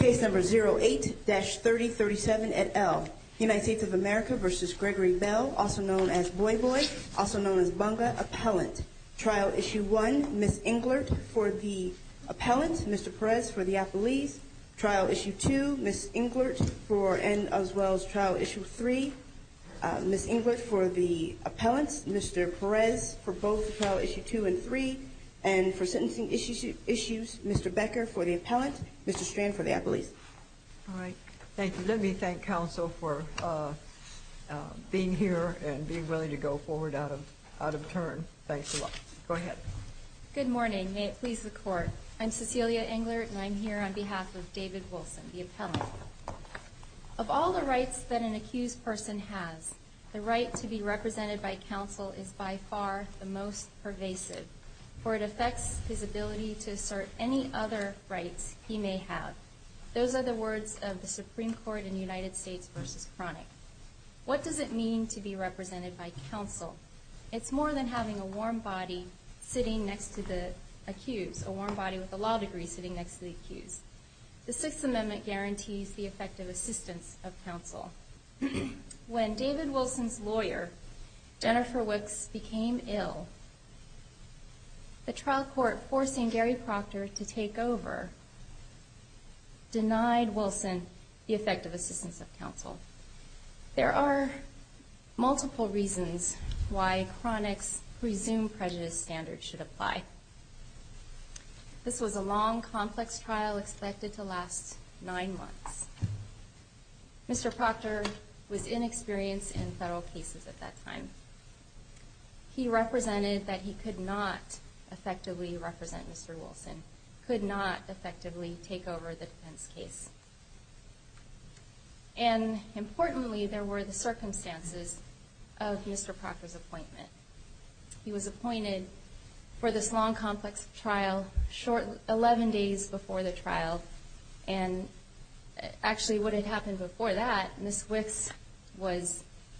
08-3037 et al. United States of America v. Gregory Bell, also known as Boy Boy, also known as Bunga, Appellant. Trial Issue 1, Ms. Englert for the Appellant, Mr. Perez for the Appellee. Trial Issue 2, Ms. Englert for and as well as Trial Issue 3, Ms. Englert for the Appellant, Mr. Perez for both Trial Issue 2 and 3. And for Sentencing Issues, Mr. Becker for the Appellant, Mr. Strand for the Appellee. All right. Thank you. Let me thank counsel for being here and being willing to go forward out of turn. Thanks a lot. Go ahead. Good morning. May it please the Court. I'm Cecilia Englert and I'm here on behalf of David Wilson, the Appellant. Of all the rights that an accused person has, the right to be represented by counsel is by far the most pervasive, for it affects his ability to assert any other rights he may have. Those are the words of the Supreme Court in United States v. Cronin. What does it mean to be represented by counsel? It's more than having a warm body sitting next to the accused, a warm body with a law degree sitting next to the accused. The Sixth Amendment guarantees the effective assistance of counsel. When David Wilson's lawyer, Jennifer Wicks, became ill, the trial court, forcing Gary Proctor to take over, denied Wilson the effective assistance of counsel. There are multiple reasons why Cronin's presumed prejudice standard should apply. This was a long, complex trial expected to last nine months. Mr. Proctor was inexperienced in several cases at that time. He represented that he could not effectively represent Mr. Wilson, could not effectively take over the defense case. And, importantly, there were the circumstances of Mr. Proctor's appointment. He was appointed for this long, complex trial, 11 days before the trial. And, actually, what had happened before that, Ms. Wicks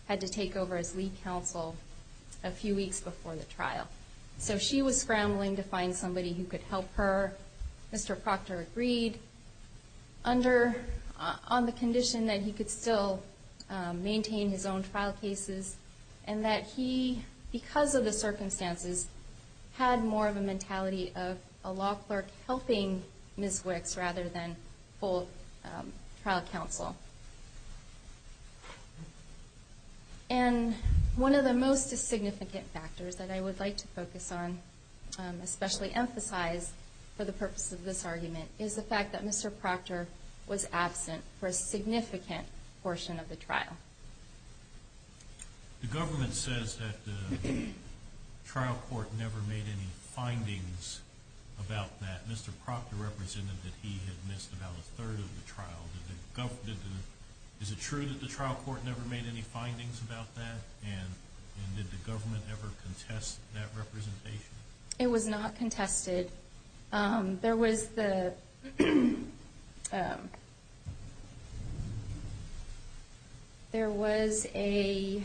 had to take over as lead counsel a few weeks before the trial. So she was scrambling to find somebody who could help her. Mr. Proctor agreed on the condition that he could still maintain his own trial cases and that he, because of the circumstances, had more of a mentality of a law clerk helping Ms. Wicks rather than full trial counsel. And one of the most significant factors that I would like to focus on, especially emphasize for the purpose of this argument, is the fact that Mr. Proctor was absent for a significant portion of the trial. The government says that the trial court never made any findings about that. Mr. Proctor represented that he had missed about a third of the trial. Is it true that the trial court never made any findings about that? And did the government ever contest that representation? It was not contested. There was a,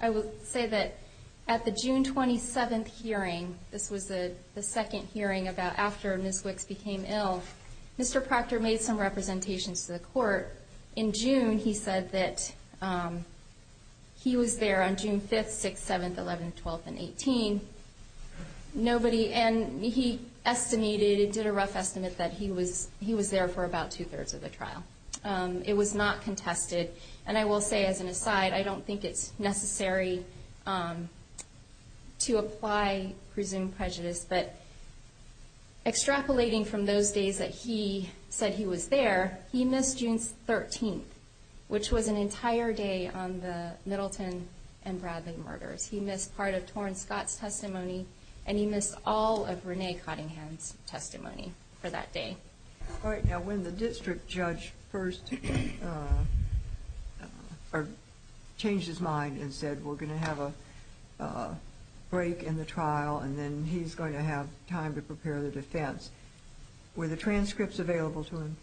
I would say that at the June 27th hearing, this was the second hearing after Ms. Wicks became ill, Mr. Proctor made some representations to the court. In June, he said that he was there on June 5th, 6th, 7th, 11th, 12th, and 18th. Nobody, and he estimated, did a rough estimate that he was there for about two-thirds of the trial. It was not contested. And I will say as an aside, I don't think it's necessary to apply presumed prejudice, but extrapolating from those days that he said he was there, he missed June 13th, which was an entire day on the Middleton and Bradley murders. He missed part of Torn Scott's testimony, and he missed all of Renee Cottingham's testimony for that day. All right. Now, when the district judge first changed his mind and said we're going to have a break in the trial and then he's going to have time to prepare the defense, were the transcripts available to him?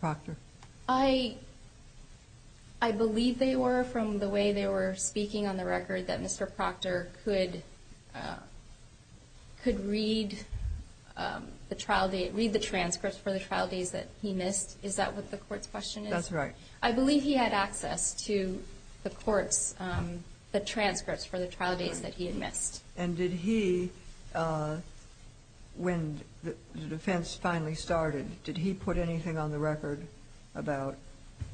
Proctor? I believe they were, from the way they were speaking on the record, that Mr. Proctor could read the transcripts for the trial date that he missed. Is that what the court's question is? That's right. I believe he had access to the court's transcripts for the trial date that he had missed. And did he, when the defense finally started, did he put anything on the record about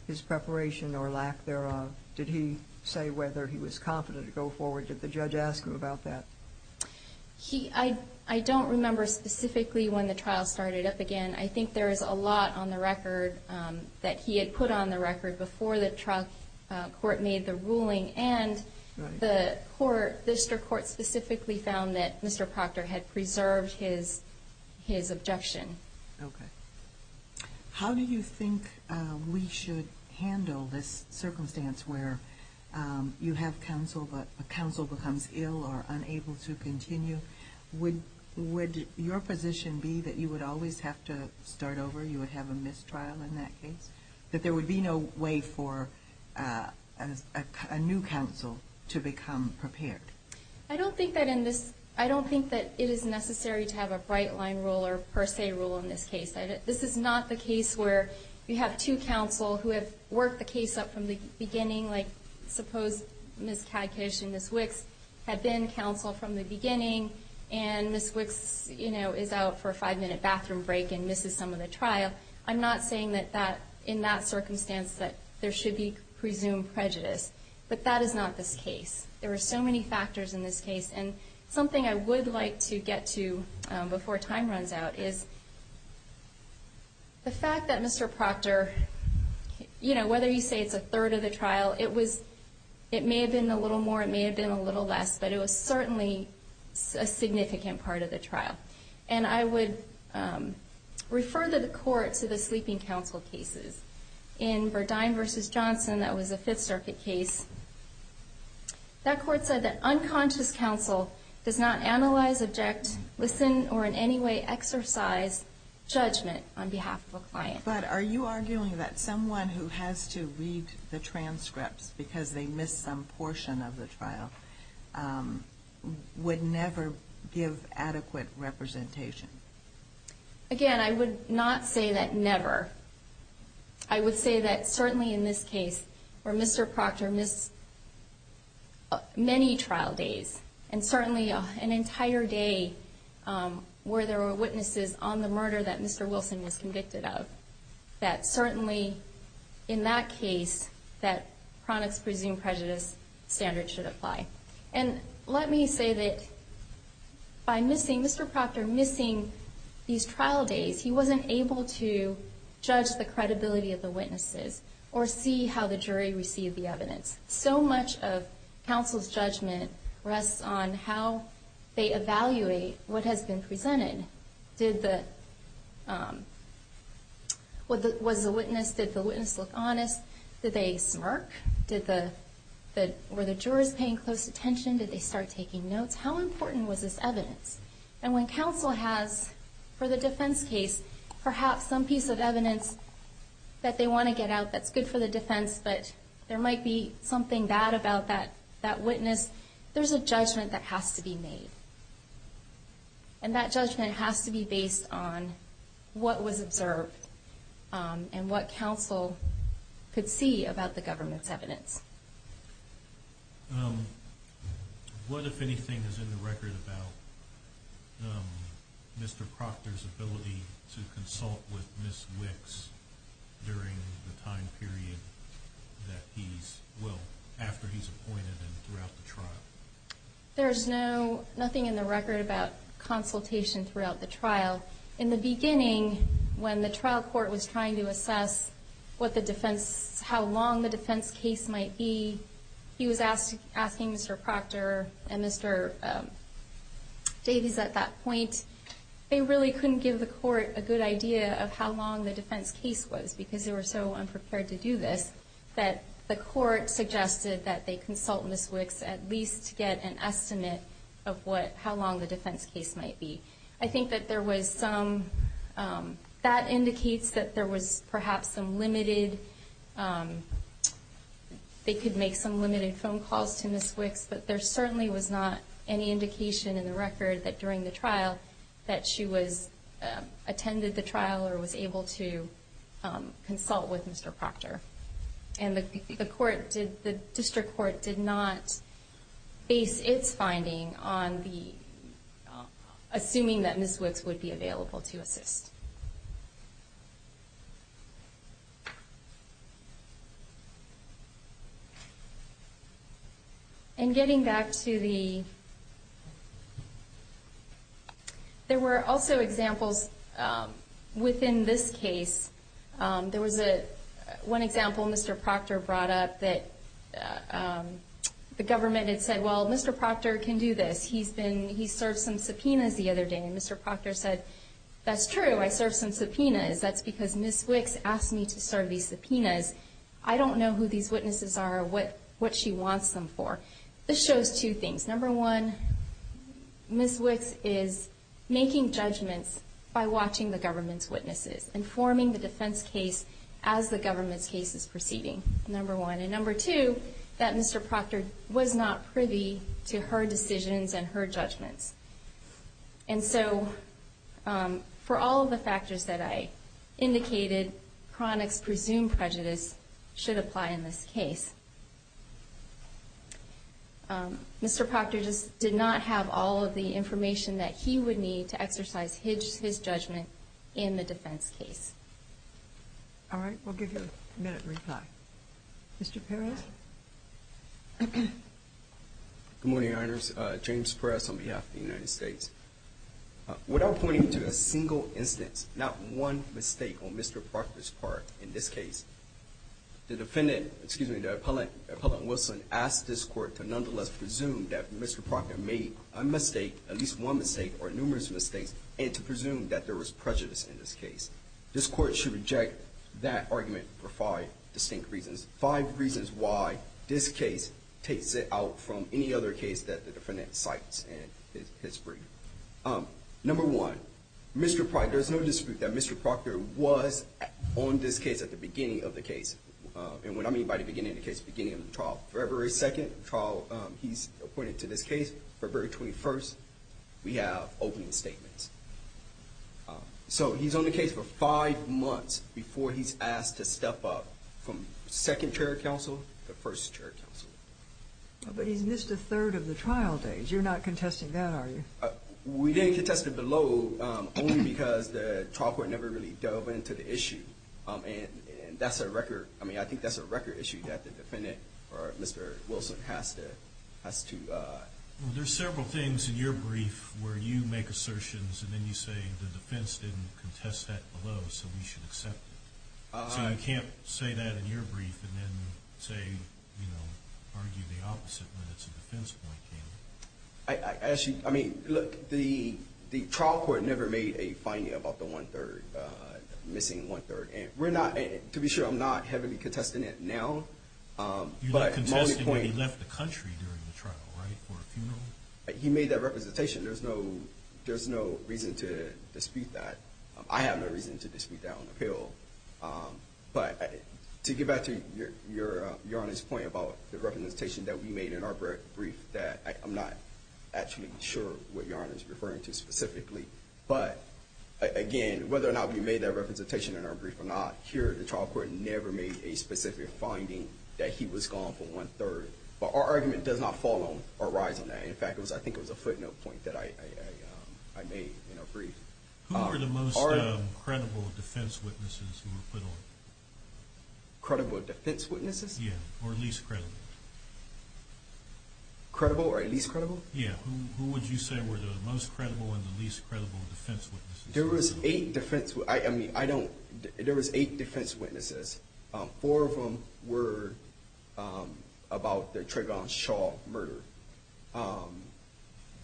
his preparation or lack thereof? Did he say whether he was confident to go forward? Did the judge ask him about that? I don't remember specifically when the trial started up again. I think there is a lot on the record that he had put on the record before the trial court made the ruling, and the district court specifically found that Mr. Proctor had preserved his objection. Okay. How do you think we should handle this circumstance where you have counsel but the counsel becomes ill or unable to continue? Would your position be that you would always have to start over? You would have a missed trial in that case? That there would be no way for a new counsel to become prepared? I don't think that it is necessary to have a bright-line rule or per se rule in this case. This is not the case where you have two counsel who have worked the case up from the beginning, like suppose Ms. Tadkish and Ms. Wicks had been counsel from the beginning, and Ms. Wicks, you know, is out for a five-minute bathroom break and misses some of the trial. I'm not saying that in that circumstance that there should be presumed prejudice, but that is not the case. There are so many factors in this case. And something I would like to get to before time runs out is the fact that Mr. Proctor, you know, whether you say it's a third of the trial, it may have been a little more, it may have been a little less, but it was certainly a significant part of the trial. And I would refer to the court for the sweeping counsel cases. In Verdine v. Johnson, that was a Fifth Circuit case, that court said that unconscious counsel does not analyze, object, listen, or in any way exercise judgment on behalf of a client. But are you arguing that someone who has to read the transcript because they missed some portion of the trial would never give adequate representation? Again, I would not say that never. I would say that certainly in this case, where Mr. Proctor missed many trial days, and certainly an entire day where there were witnesses on the murder that Mr. Wilson was convicted of, that certainly in that case, that chronic suing prejudice standard should apply. And let me say that by missing, Mr. Proctor missing these trial days, he wasn't able to judge the credibility of the witnesses or see how the jury received the evidence. So much of counsel's judgment rests on how they evaluate what has been presented. Did the witness look honest? Did they smirk? Were the jurors paying close attention? Did they start taking notes? How important was this evidence? And when counsel has, for the defense case, perhaps some piece of evidence that they want to get out that's good for the defense, but there might be something bad about that witness, there's a judgment that has to be made. And that judgment has to be based on what was observed and what counsel could see about the government's evidence. What, if anything, is in the record about Mr. Proctor's ability to consult with Ms. Wicks during the time period that he's, well, after he's appointed and throughout the trial? There's no, nothing in the record about consultation throughout the trial. In the beginning, when the trial court was trying to assess what the defense, how long the defense case might be, he was asking Mr. Proctor and Mr. Davies at that point, they really couldn't give the court a good idea of how long the defense case was because they were so unprepared to do this, that the court suggested that they consult Ms. Wicks at least to get an estimate of what, how long the defense case might be. I think that there was some, that indicates that there was perhaps some limited, they could make some limited phone calls to Ms. Wicks, but there certainly was not any indication in the record that during the trial, that she was, attended the trial or was able to consult with Mr. Proctor. And the court, the district court did not base its finding on the, assuming that Ms. Wicks would be available to assist. And getting back to the, there were also examples within this case. There was one example Mr. Proctor brought up that the government had said, well, Mr. Proctor can do this. He's been, he served some subpoenas the other day and Mr. Proctor said, that's true, but he can't do this. That's true, I served some subpoenas. That's because Ms. Wicks asked me to serve these subpoenas. I don't know who these witnesses are or what, what she wants them for. This shows two things. Number one, Ms. Wicks is making judgments by watching the government's witnesses, informing the defense case as the government case is proceeding, number one. And number two, that Mr. Proctor was not privy to her decisions and her judgments. And so, for all of the factors that I indicated, chronic presumed prejudice should apply in this case. Mr. Proctor just did not have all of the information that he would need to exercise his judgment in the defense case. All right, we'll give you a minute to reply. Mr. Perez? Good morning, Your Honor. James Perez on behalf of the United States. Without pointing to a single instance, not one mistake on Mr. Proctor's part in this case, the defendant, excuse me, the appellant, Appellant Wilson, asked this court to nonetheless presume that Mr. Proctor made a mistake, at least one mistake or numerous mistakes, and to presume that there was prejudice in this case. This court should reject that argument for five distinct reasons. Five reasons why this case takes it out from any other case that the defendant cites in history. Number one, there's no dispute that Mr. Proctor was on this case at the beginning of the case. And what I mean by the beginning of the case, the beginning of the trial. February 2nd, the trial he's appointed to this case. February 21st, we have opening statements. So he's on the case for five months before he's asked to step up from second chair of counsel to first chair of counsel. But he missed a third of the trial days. You're not contesting that, are you? We didn't contest it below, only because the trial court never really delved into the issue. And that's a record, I mean, I think that's a record issue that the defendant, or Mr. Wilson, has to... Well, there's several things in your brief where you make assertions and then you say the defense didn't contest that below, so we should accept it. So I can't say that in your brief and then say, you know, argue the opposite when it's a defense point, can you? I mean, look, the trial court never made a finding about the one-third, missing one-third. And to be sure, I'm not heavily contesting it now. You left the country during the trial, right, for a funeral? He made that representation. There's no reason to dispute that. I have no reason to dispute that on appeal. But to get back to Your Honor's point about the representation that we made in our brief, I'm not actually sure what Your Honor is referring to specifically. But, again, whether or not we made that representation in our brief or not, here, the trial court never made a specific finding that he was gone for one-third. But our argument does not fall on or rise on that. In fact, I think it was a footnote point that I made in our brief. Who were the most credible defense witnesses in the field? Credible defense witnesses? Yeah, or least credible. Credible or least credible? Yeah, who would you say were the most credible and the least credible defense witnesses? There was eight defense witnesses. Four of them were about the Trayvon Shaw murder.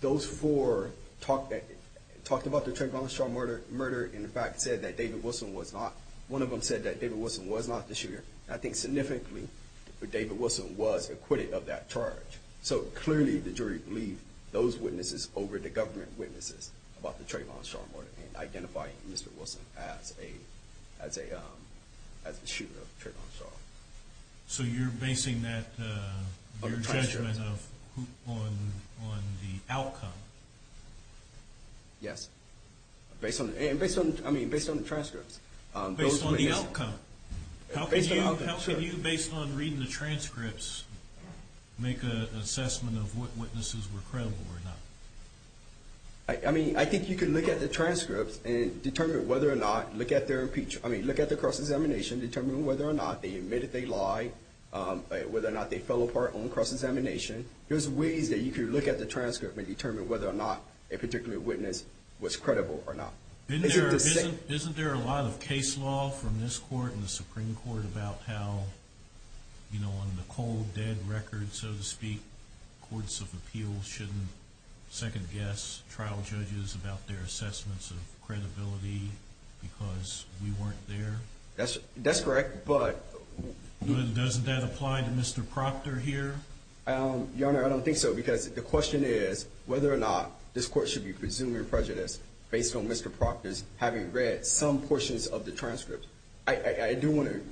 Those four talked about the Trayvon Shaw murder and, in fact, said that David Wilson was not. One of them said that David Wilson was not the shooter. I think significantly that David Wilson was acquitted of that charge. So, clearly, the jury believed those witnesses over the government witnesses about the Trayvon Shaw murder and identified Mr. Wilson as the shooter of Trayvon Shaw. So you're basing that judgment on the outcome? Yes, based on the transcripts. Based on the outcome? How could you, based on reading the transcripts, make an assessment of what witnesses were credible or not? I mean, I think you could look at the transcript and determine whether or not, look at their impeachment, I mean, look at their cross-examination, determine whether or not they admitted they lied, whether or not they fell apart on cross-examination. There's ways that you could look at the transcript and determine whether or not a particular witness was credible or not. Isn't there a lot of case law from this court and the Supreme Court about how, you know, on the cold, dead record, so to speak, courts of appeals shouldn't second-guess trial judges about their assessments of credibility because we weren't there? That's correct, but... Doesn't that apply to Mr. Proctor here? Your Honor, I don't think so because the question is whether or not this court should be presuming prejudice based on Mr. Proctor's having read some portions of the transcripts. I do want to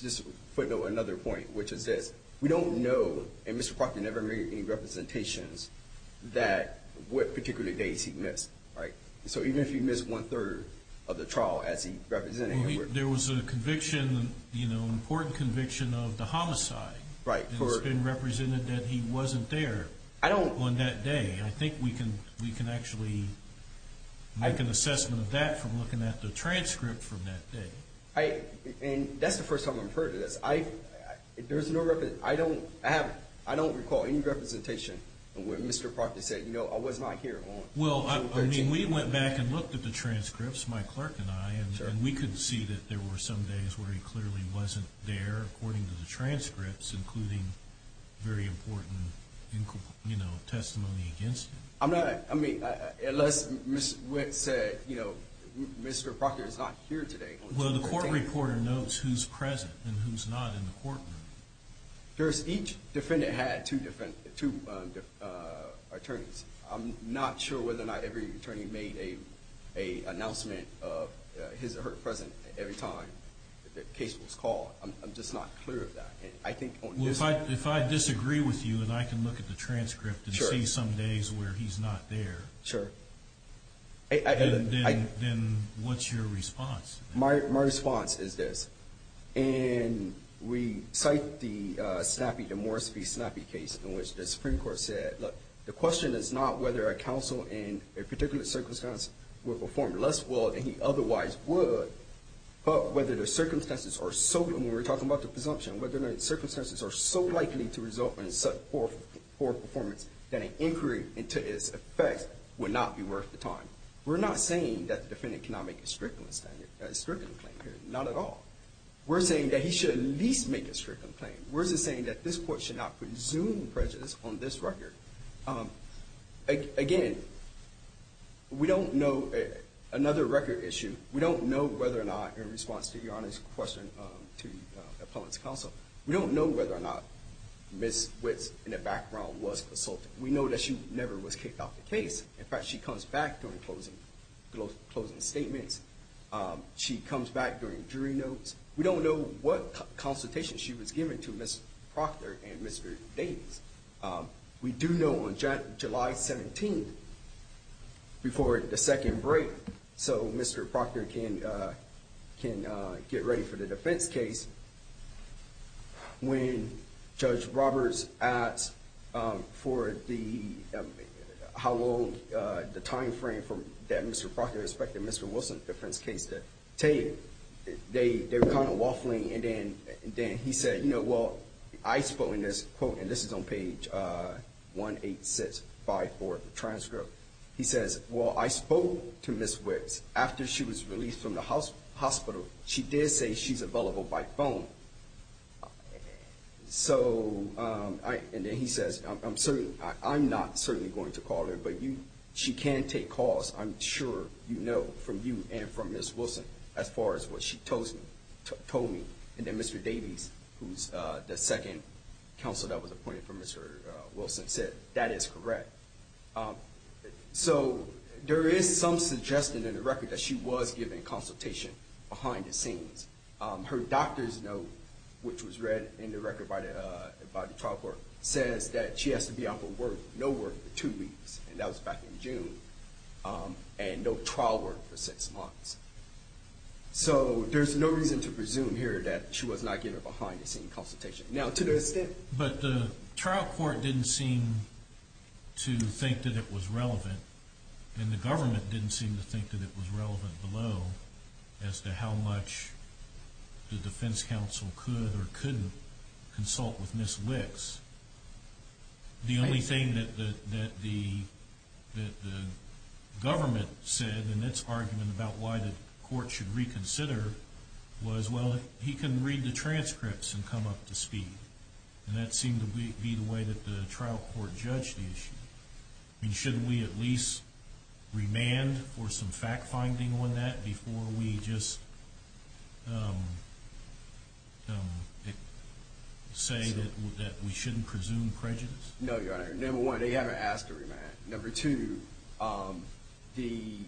just put another point, which is this. We don't know, and Mr. Proctor never made any representations, that what particular days he missed, right? So even if he missed one-third of the trial as he represented... There was a conviction, you know, an important conviction of the homicide. Right. And it's been represented that he wasn't there on that day. I think we can actually make an assessment of that from looking at the transcript from that day. And that's the first time I've heard of this. I don't recall any representation where Mr. Proctor said, you know, I was not here on... Well, I mean, we went back and looked at the transcripts, my clerk and I, and we could see that there were some days where he clearly wasn't there according to the transcripts, including very important testimony against him. I mean, unless Mr. Wick said, you know, Mr. Proctor is not here today. Well, the court reporter notes who's present and who's not in the courtroom. Each defendant had two attorneys. I'm not sure whether or not every attorney made an announcement of his or her presence every time the case was called. I'm just not clear of that. If I disagree with you and I can look at the transcript and see some days where he's not there, then what's your response? My response is this. And we cite the Snappy-Demorski-Snappy case in which the Supreme Court said, look, the question is not whether a counsel in a particular circumstance will perform less well than he otherwise would, but whether the circumstances are so – and we're talking about the presumption – whether the circumstances are so likely to result in such poor performance that an inquiry into its effect would not be worth the time. We're not saying that the defendant cannot make a stricter claim here, not at all. We're saying that he should at least make a stricter claim. We're just saying that this court should not presume presence on this record. Again, we don't know – another record issue. We don't know whether or not, in response to your honest question to the public's counsel, we don't know whether or not Ms. Witt in the background was assaulted. We know that she never was kicked off the case. In fact, she comes back during closing statements. She comes back during jury notes. We don't know what consultation she was given to Ms. Proctor and Mr. Davis. We do know on July 17th, before the second break, so Mr. Proctor can get ready for the defense case, when Judge Roberts asked for the – how long the timeframe that Mr. Proctor expected Mr. Wilson's defense case to take, they were kind of waffling, and then he said, you know, well, I spoke to Ms. – quote, and this is on page 18654 of the transcript. He says, well, I spoke to Ms. Witt after she was released from the hospital. She did say she's available by phone. And then he says, I'm not certainly going to call her, but she can take calls, I'm sure you know, from you and from Ms. Wilson as far as what she told me. And then Mr. Davis, who's the second counsel that was appointed for Mr. Wilson, said, that is correct. So there is some suggestion in the record that she was given consultation behind the scenes. Her doctor's note, which was read in the record by the trial court, says that she has to be out for work, no work, for two weeks, and that was back in June, and no trial work for six months. So there's no reason to presume here that she was not given a behind-the-scenes consultation. Now, to the extent – But the trial court didn't seem to think that it was relevant, and the government didn't seem to think that it was relevant below, as to how much the defense counsel could or couldn't consult with Ms. Wicks. The only thing that the government said in its argument about why the court should reconsider was, well, he can read the transcripts and come up to speed. And that seemed to be the way that the trial court judged the issue. Shouldn't we at least remand for some fact-finding on that before we just say that we shouldn't presume prejudice? No, Your Honor. Number one, they haven't asked to remand. Number two, again,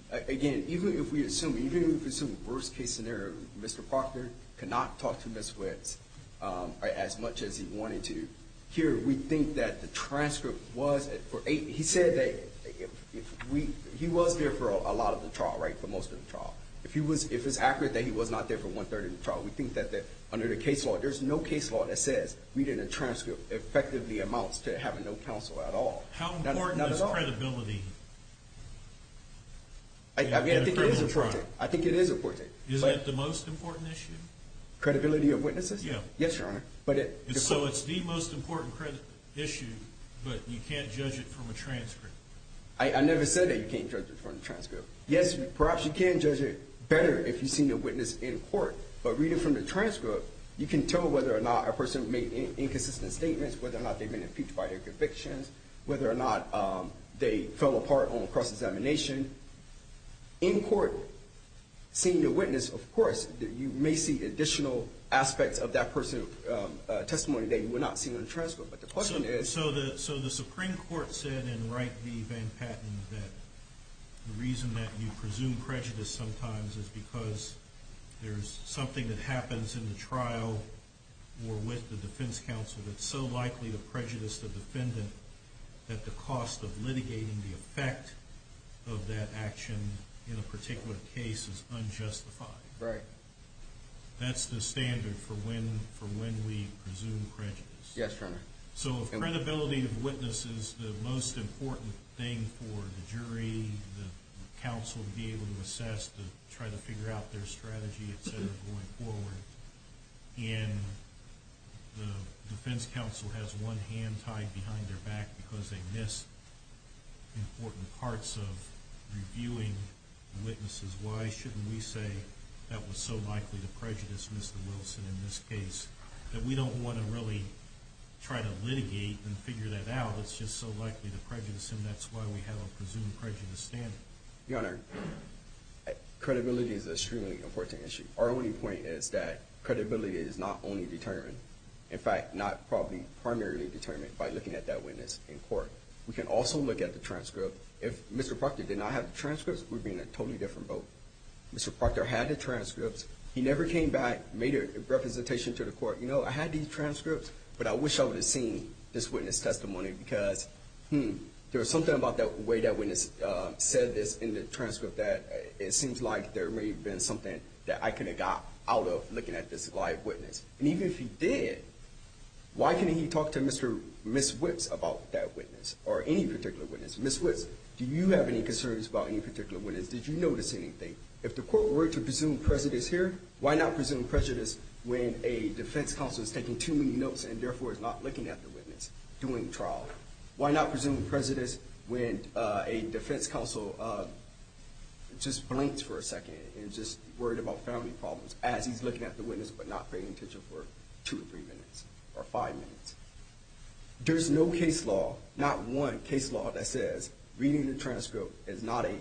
even if we assume the worst-case scenario, Mr. Proctor cannot talk to Ms. Wicks as much as he wanted to. Here, we think that the transcript was – he said that he was there for a lot of the trial, right, for most of the trial. If it's accurate that he was not there for 130 of the trial, we think that under the case law, there's no case law that says reading a transcript effectively amounts to having no counsel at all. How important is credibility? I mean, I think it is important. I think it is important. Is that the most important issue? Credibility of witnesses? Yeah. Yes, Your Honor. So it's the most important issue, but you can't judge it from a transcript? I never said that you can't judge it from a transcript. Yes, perhaps you can judge it better if you've seen your witness in court, but reading from the transcript, you can tell whether or not a person made inconsistent statements, whether or not they made a speech by their conviction, whether or not they fell apart on a cross-examination. In court, seeing the witness, of course, you may see additional aspects of that person's testimony that you would not see on a transcript. So the Supreme Court said in Wright v. Van Patten that the reason that you presume prejudice sometimes is because there's something that happens in the trial or with the defense counsel that's so likely a prejudice to the defendant that the cost of litigating the effect of that action in a particular case is unjustified. Right. That's the standard for when we presume prejudice. Yes, Your Honor. So credibility of witnesses is the most important thing for the jury, the counsel to be able to assess, to try to figure out their strategy, et cetera, going forward. And the defense counsel has one hand tied behind their back because they missed important parts of reviewing witnesses. Why shouldn't we say that was so likely a prejudice, Mr. Wilson, in this case? We don't want to really try to litigate and figure that out. It's just so likely a prejudice, and that's why we have a presumed prejudice standard. Your Honor, credibility is an extremely important issue. Our only point is that credibility is not only determined, in fact, not probably primarily determined by looking at that witness in court. We can also look at the transcript. If Mr. Proctor did not have the transcripts, we'd be in a totally different boat. Mr. Proctor had the transcripts. He never came back, made a representation to the court. You know, I had these transcripts, but I wish I would have seen this witness testimony because there was something about the way that witness said this in the transcript that it seems like there may have been something that I could have got out of looking at this live witness. And even if he did, why can't he talk to Ms. Witts about that witness or any particular witness? Ms. Witts, do you have any concerns about any particular witness? Did you notice anything? If the court were to presume prejudice here, why not presume prejudice when a defense counsel is taking too many notes and therefore is not looking at the witness during trial? Why not presume prejudice when a defense counsel just blinks for a second and is just worried about family problems as he's looking at the witness but not paying attention for two or three minutes or five minutes? There's no case law, not one case law, that says reading the transcript is not an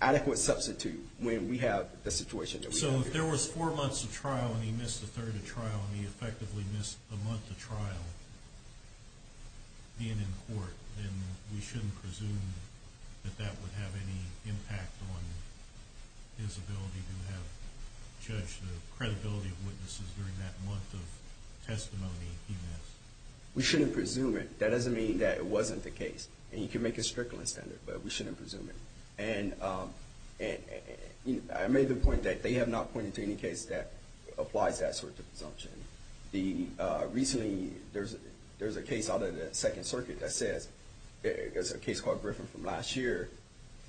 adequate substitute So if there was four months of trial and he missed a third of trial and he effectively missed a month of trial being in court, then we shouldn't presume that that would have any impact on his ability to judge the credibility of witnesses during that month of testimony he missed. We shouldn't presume it. That doesn't mean that it wasn't the case. And you can make a strickling standard, but we shouldn't presume it. And I made the point that they have not pointed to any case that applies that sort of presumption. Recently, there's a case out of the Second Circuit that says, there's a case called Griffin from last year,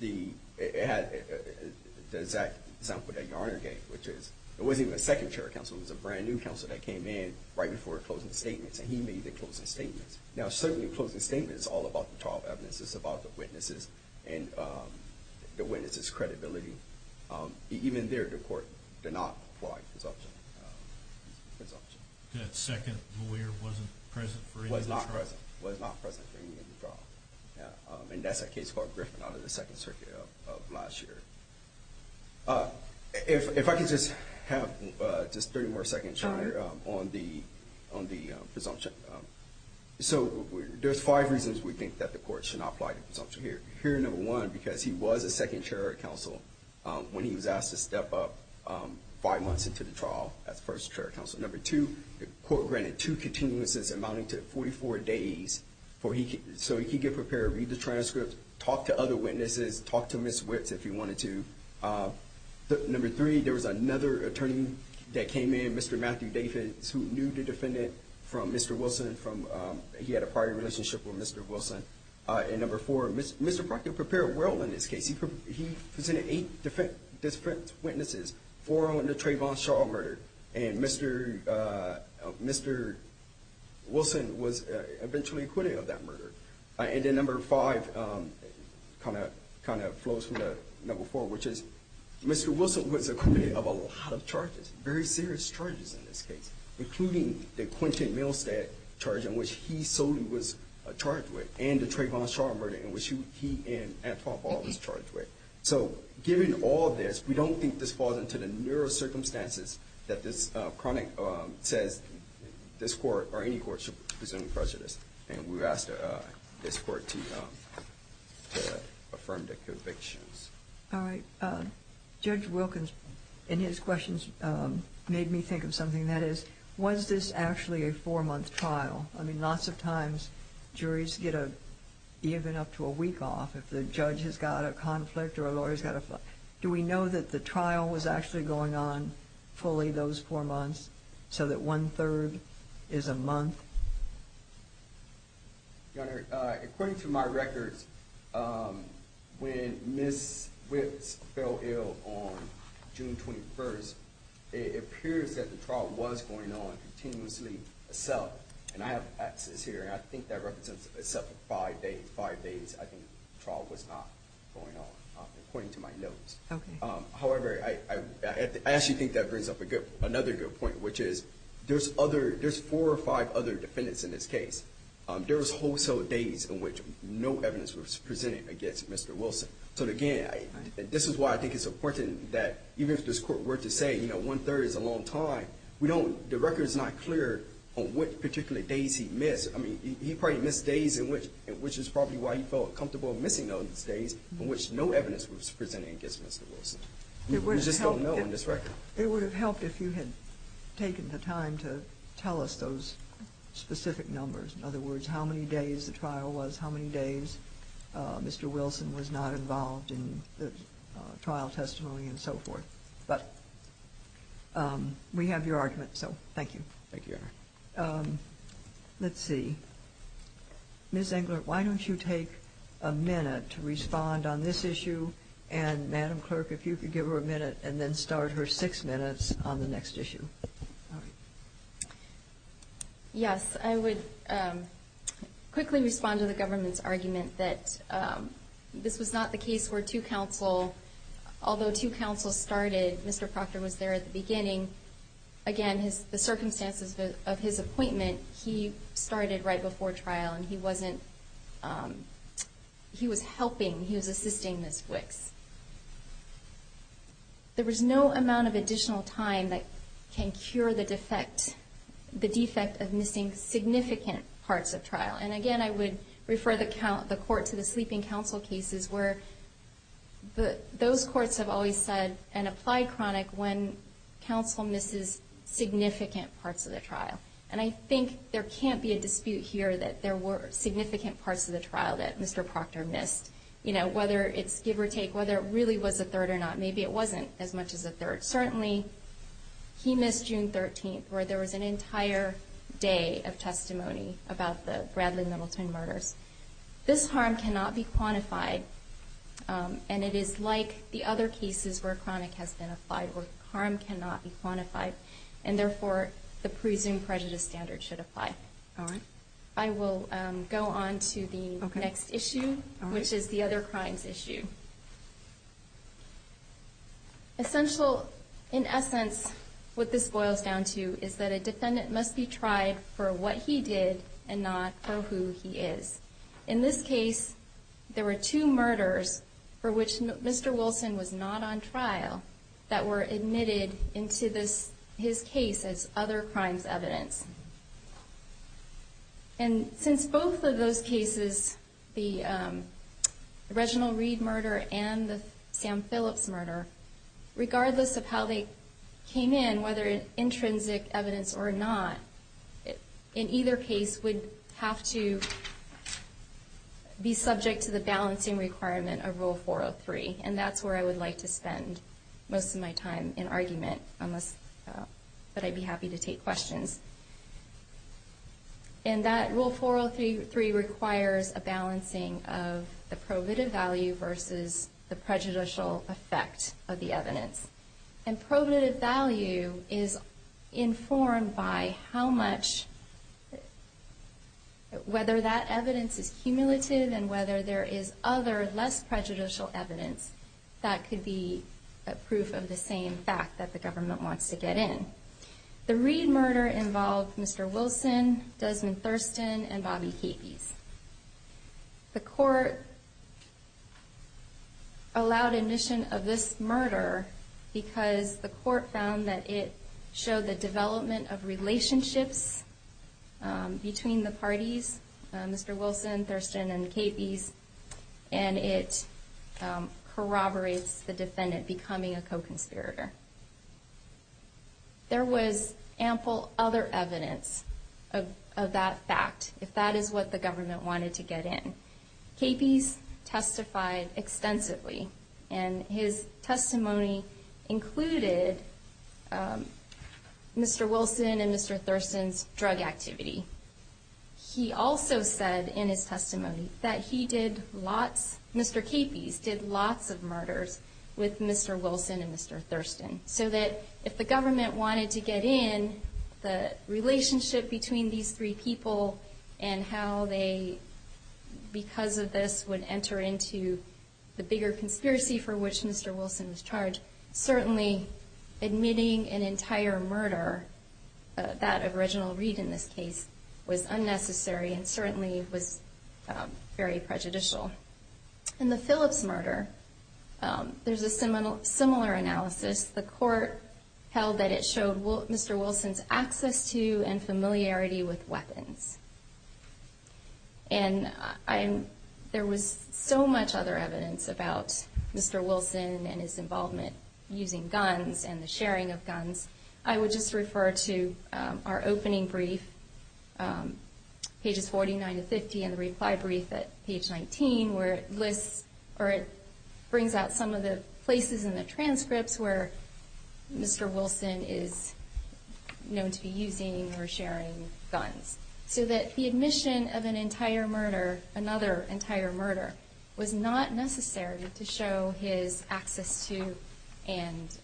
it has the exact example of the Yarner Gang, which is, it wasn't even a second chair counsel, it was a brand new counsel that came in right before closing statements, and he made the closing statements. Now certainly closing statements is all about the trial evidence, it's about the witnesses and the witnesses' credibility. Even there, the court did not apply presumption. That second lawyer wasn't present? Was not present. And that's a case called Griffin out of the Second Circuit of last year. If I could just have just three more seconds on the presumption. So there's five reasons we think that the court should not apply presumption here. Number one, because he was a second chair counsel when he was asked to step up five months into the trial as first chair counsel. Number two, the court granted two continuances amounting to 44 days, so he could get prepared, read the transcripts, talk to other witnesses, talk to Ms. Witts if he wanted to. Number three, there was another attorney that came in, Mr. Matthew Davis, who knew the defendant from Mr. Wilson. He had a prior relationship with Mr. Wilson. And number four, Mr. Brockett prepared well in this case. He presented eight different witnesses, four on the Trayvon Shaw murder, and Mr. Wilson was eventually acquitted of that murder. And then number five kind of flows from the number four, which is Mr. Wilson was acquitted of a lot of charges, very serious charges in this case, including the Quincy Milstead charge in which he solely was charged with, and the Trayvon Shaw murder in which he and Adolph Hall was charged with. So given all this, we don't think this falls into the narrow circumstances that this chronic says this court or any court should presume prejudice, and we ask this court to affirm their convictions. All right. Judge Wilkins in his questions made me think of something. That is, was this actually a four-month trial? I mean, lots of times juries get even up to a week off if the judge has got a conflict or a lawyer's got a conflict. Do we know that the trial was actually going on fully those four months so that one-third is a month? Your Honor, according to my record, when Ms. Swift fell ill on June 21st, it appears that the trial was going on continuously itself, and I have access here, and I think that represents itself as five days. I think the trial was not going on, according to my notes. Okay. However, I actually think that brings up another good point, which is there's four or five other defendants in this case. There was also days in which no evidence was presented against Mr. Wilson. So again, this is why I think it's important that even if this court were to say, you know, one-third is a long time, the record is not clear on what particular days he missed. I mean, he probably missed days in which is probably why he felt comfortable missing those days in which no evidence was presented against Mr. Wilson. We just don't know in this record. It would have helped if you had taken the time to tell us those specific numbers. In other words, how many days the trial was, how many days Mr. Wilson was not involved in the trial testimony and so forth. But we have your argument, so thank you. Thank you, Your Honor. Let's see. Ms. Englert, why don't you take a minute to respond on this issue, and Madam Clerk, if you could give her a minute and then start her six minutes on the next issue. Yes, I would quickly respond to the government's argument that this is not the case where two counsels, although two counsels started, Mr. Proctor was there at the beginning. Again, the circumstances of his appointment, he started right before trial and he was helping, he was assisting Ms. Wicks. There was no amount of additional time that can cure the defect, the defect of missing significant parts of trial. And again, I would refer the court to the sleeping counsel cases where those courts have always said and apply chronic when counsel misses significant parts of the trial. And I think there can't be a dispute here that there were significant parts of the trial that Mr. Proctor missed. You know, whether it's give or take, whether it really was the third or not, maybe it wasn't as much as the third. Certainly, he missed June 13th, where there was an entire day of testimony about the Bradley Middleton murders. This harm cannot be quantified, and it is like the other cases where chronic has been applied, where harm cannot be quantified. And therefore, the prison prejudice standard should apply. All right. I will go on to the next issue, which is the other chronic issue. Essential, in essence, what this boils down to is that a defendant must be tried for what he did and not for who he is. In this case, there were two murders for which Mr. Wilson was not on trial that were admitted into his case as other crimes evidence. And since both of those cases, the Reginald Reed murder and the Sam Phillips murder, regardless of how they came in, whether it's intrinsic evidence or not, in either case would have to be subject to the balancing requirement of Rule 403, and that's where I would like to spend most of my time in argument, but I'd be happy to take questions. And that Rule 403 requires a balancing of the prohibitive value versus the prejudicial effect of the evidence. And prohibitive value is informed by how much, whether that evidence is cumulative and whether there is other, less prejudicial evidence that could be proof of the same fact that the government wants to get in. The Reed murder involved Mr. Wilson, Desmond Thurston, and Bobby Capey. The court allowed admission of this murder because the court found that it showed the development of relationships between the parties, Mr. Wilson, Thurston, and Capey, and it corroborates the defendant becoming a co-conspirator. There was ample other evidence of that fact, if that is what the government wanted to get in. Capey testified extensively, and his testimony included Mr. Wilson and Mr. Thurston's drug activity. He also said in his testimony that he did lots, Mr. Capey did lots of murders with Mr. Wilson and Mr. Thurston, so that if the government wanted to get in, the relationship between these three people and how they, because of this, would enter into the bigger conspiracy for which Mr. Wilson was charged, certainly admitting an entire murder, that of Reginald Reed in this case, was unnecessary and certainly was very prejudicial. In the Phillips murder, there's a similar analysis. The court held that it showed Mr. Wilson's access to and familiarity with weapons. There was so much other evidence about Mr. Wilson and his involvement using guns and the sharing of guns. I would just refer to our opening brief, pages 49 to 50, and the reply brief at page 19, where it brings out some of the places in the transcripts where Mr. Wilson is known to be using or sharing guns, so that the admission of another entire murder was not necessary to show his access to and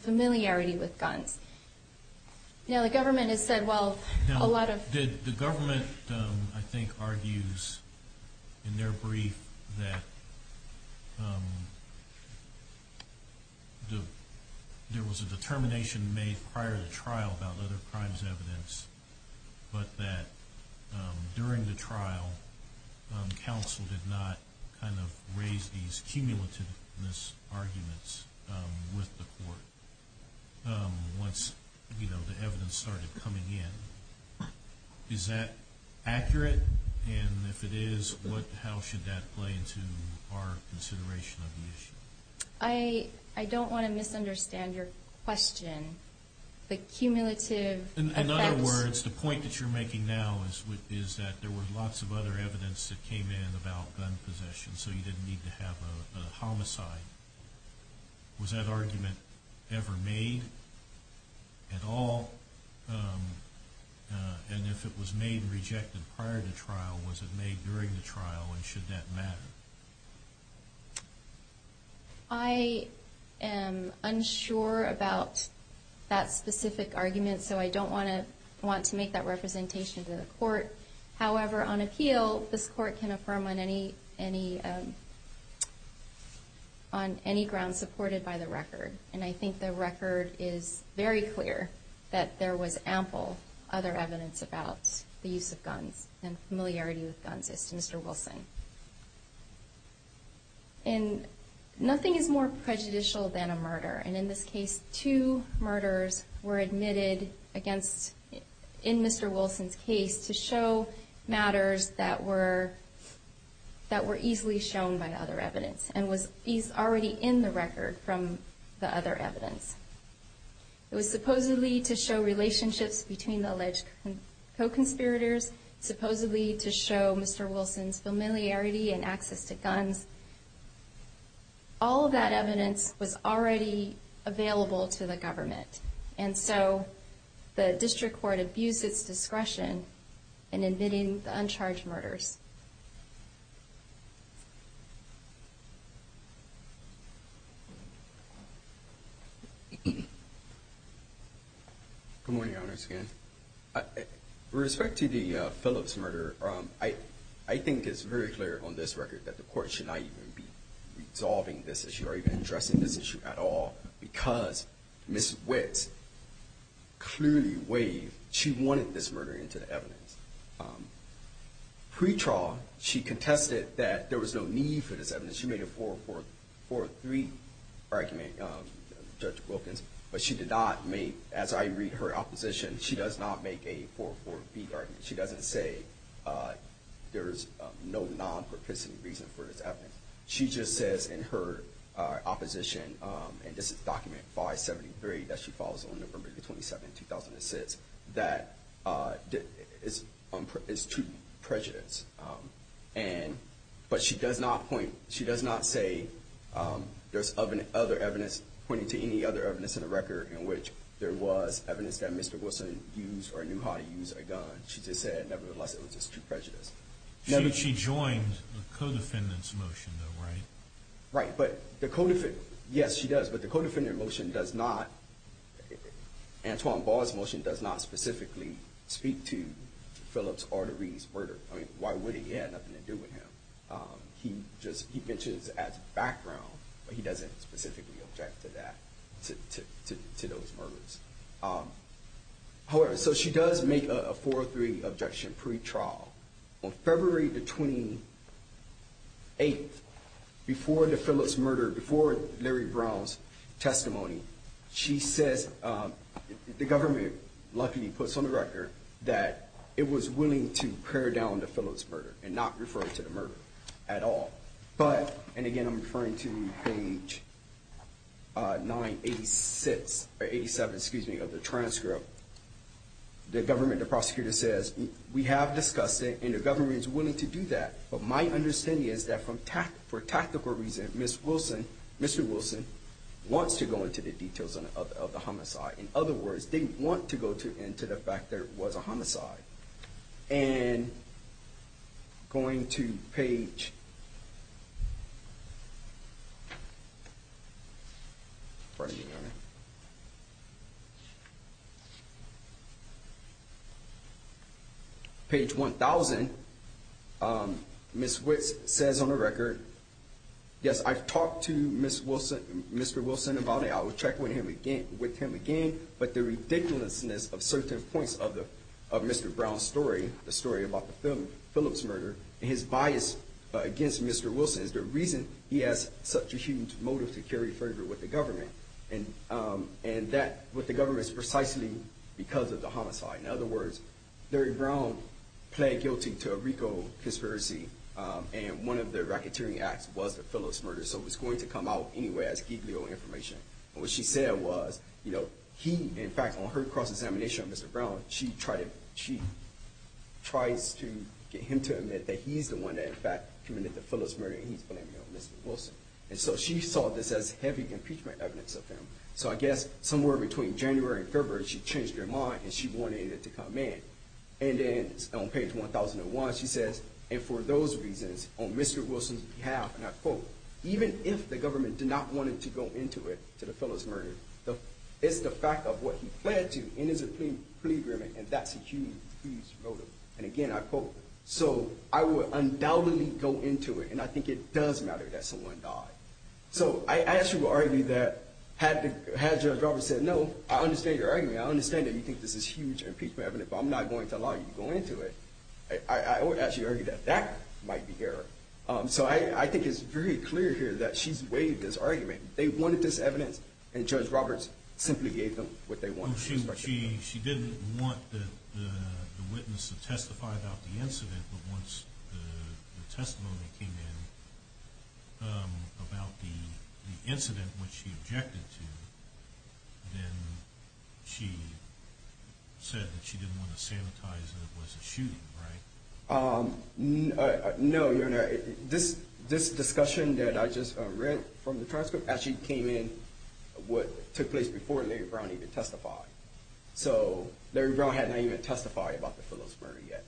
familiarity with guns. The government, I think, argues in their brief that there was a determination made prior to trial about other crimes evidence, but that during the trial, counsel did not raise these cumulativeness arguments with the court once the evidence started coming in. Is that accurate? And if it is, how should that play into our consideration of the issue? I don't want to misunderstand your question. The cumulative... In other words, the point that you're making now is that there was lots of other evidence that came in about gun possession, so you didn't need to have the homicide. Was that argument ever made at all? And if it was made and rejected prior to trial, was it made during the trial, and should that matter? I am unsure about that specific argument, so I don't want to make that representation to the court. However, on appeal, this court can affirm on any ground supported by the record, and I think the record is very clear that there was ample other evidence about the use of guns and familiarity with guns against Mr. Wilson. And nothing is more prejudicial than a murder, and in this case, two murders were admitted in Mr. Wilson's case to show matters that were easily shown by the other evidence and was already in the record from the other evidence. It was supposedly to show relationships between the alleged co-conspirators, supposedly to show Mr. Wilson's familiarity and access to guns. All of that evidence was already available to the government, and so the district court abused its discretion in admitting the uncharged murders. Good morning, Your Honors. With respect to the Phillips murder, I think it's very clear on this record that the court should not even be resolving this issue or even addressing this issue at all because Ms. Witt clearly waived. She wanted this murder into the evidence. Pre-trial, she contested that there was no need for this evidence. She made a 4-4-4-3 argument, Judge Wilkins, but she did not make, as I read her opposition, she does not make a 4-4-4-3 argument. She doesn't say there's no non-partisan reason for this evidence. She just says in her opposition, and this is document 573 that she follows on November 27, 2006, that it's true prejudice, but she does not say there's other evidence pointing to any other evidence in the record in which there was evidence that Mr. Wilson used or knew how to use a gun. She just said, nevertheless, it was just true prejudice. She joins the co-defendant's motion, though, right? Right, but the co-defendant, yes, she does, but the co-defendant motion does not, Antoine Ball's motion does not specifically speak to Phillips Arteries' murder. I mean, why would it? He had nothing to do with him. He just mentions it as background, but he doesn't specifically object to that, to those murders. However, so she does make a 4-3 objection pre-trial. On February 28, before the Phillips murder, before Larry Brown's testimony, she said the government, luckily, puts on the record that it was willing to pare down the Phillips murder and not refer it to the murder at all. But, and again, I'm referring to page 986, or 87, excuse me, of the transcript. The government, the prosecutor says, we have discussed it, and the government is willing to do that, but my understanding is that for tactical reasons, Mr. Wilson wants to go into the details of the homicide. In other words, didn't want to go into the fact there was a homicide. And going to page 1,000, Ms. Wicks says on the record, yes, I talked to Mr. Wilson about it. I was checked with him again, but the ridiculousness of certain points of Mr. Brown's story, the story about the Phillips murder, his bias against Mr. Wilson, the reason he has such a huge motive to carry further with the government, and that with the government is precisely because of the homicide. In other words, Larry Brown pled guilty to a RICO conspiracy, and one of the racketeering acts was the Phillips murder, so it's going to come out anyway as equally old information. What she said was he, in fact, on her cross-examination of Mr. Brown, she tried to get him to admit that he's the one that, in fact, committed the Phillips murder, and he's blaming it on Mr. Wilson. And so she saw this as heavy impeachment evidence of him. So I guess somewhere between January and February, she changed her mind, and she wanted it to come in. And then on page 1,001, she says, and for those reasons, on Mr. Wilson's behalf, and I quote, even if the government did not want him to go into it, to the Phillips murder, it's the fact of what he pled to in his plea agreement, and that's a huge, huge motive. And again, I quote, so I would undoubtedly go into it, and I think it does matter that someone died. So I actually would argue that had the government said, no, I understand your argument. I understand that you think this is huge impeachment evidence, but I'm not going to allow you to go into it. I would actually argue that that might be there. So I think it's very clear here that she's weighed this argument. They wanted this evidence, and Judge Roberts simply gave them what they wanted. She didn't want the witness to testify about the incident, but once the testimony came in about the incident, which she objected to, then she said that she didn't want to sanitize it. It wasn't shooting, right? No, Your Honor. This discussion that I just read from the transcript actually came in what took place before Larry Brown even testified. So Larry Brown had not even testified about the Phillips murder yet,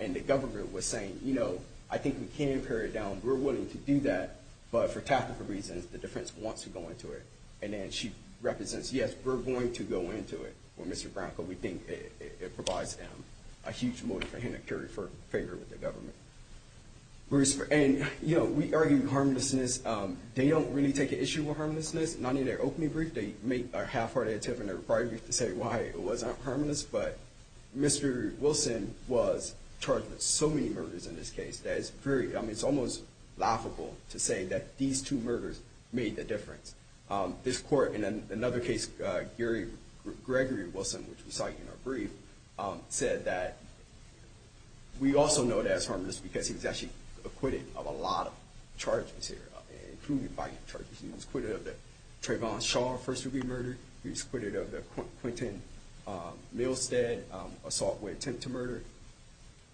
and the government was saying, you know, I think we can carry it down. We're willing to do that, but for tactical reasons, the defense wants to go into it. And then she represents, yes, we're going to go into it with Mr. Brown, but we think it provides them a huge motive for him to carry it for favor with the government. And, you know, we argue harmlessness. They don't really take an issue with harmlessness. Not in their opening brief, they make a half-hearted attempt, and they're probably going to say why it was not harmless, but Mr. Wilson was charged with so many murders in this case that it's almost laughable to say that these two murders made the difference. This court, in another case, Gary Gregory Wilson, which we cite in our brief, said that we also know that it's harmless because he was actually acquitted of a lot of charges here, including violent charges. He was acquitted of the Trayvon Shaw first-degree murder. He was acquitted of the Quentin Milstead assault with intent to murder.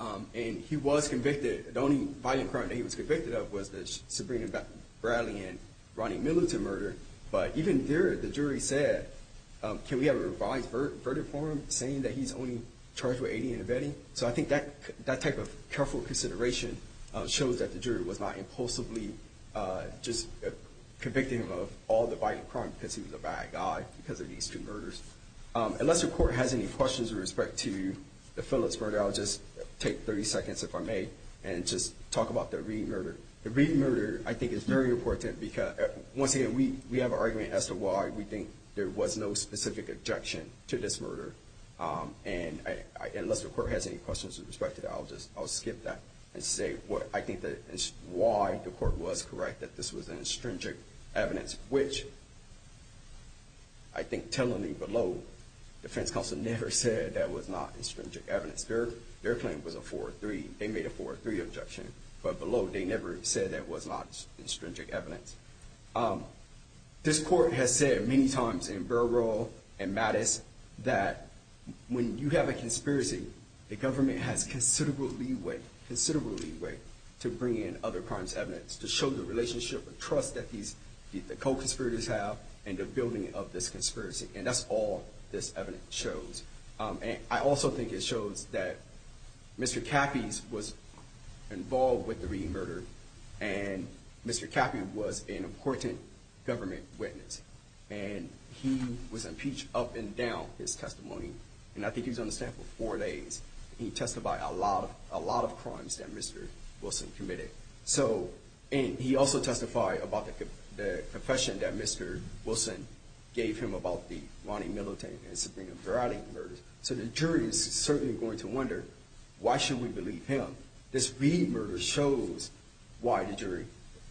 And he was convicted. The only violent crime that he was convicted of was the Sabrina Bradley and Ronnie Miller murder. But even there, the jury said, can we have a revised verdict for him, saying that he's only charged with aiding and abetting? So I think that type of careful consideration shows that the jury was not impulsively just convicting him of all the violent crimes because he was a bad guy because of these two murders. Unless the court has any questions with respect to the Phillips murder, I'll just take 30 seconds, if I may, and just talk about the Reid murder. The Reid murder, I think, is very important because, once again, we have an argument as to why we think there was no specific objection to this murder. And unless the court has any questions with respect to that, I'll just skip that and say what I think is why the court was correct, that this was an astringent evidence, which I think tellingly below, the defense counsel never said that was not astringent evidence. Their claim was a 4-3. They made a 4-3 objection. But below, they never said that was not astringent evidence. This court has said many times in Burwell and Mattis that when you have a conspiracy, a government has considerable leeway, considerable leeway, to bring in other crimes evidence to show the relationship, the trust that these co-conspirators have in the building of this conspiracy. And that's all this evidence shows. And I also think it shows that Mr. Caffey was involved with the Reid murder, and Mr. Caffey was an important government witness. And he was impeached up and down his testimony. And I think he's on the stand for four days. He testified about a lot of crimes that Mr. Wilson committed. So, and he also testified about the confession that Mr. Wilson gave him about the Ronnie Milliton and Sabrina Veroni murder. So the jury is certainly going to wonder, why should we believe him? But this Reid murder shows why the jury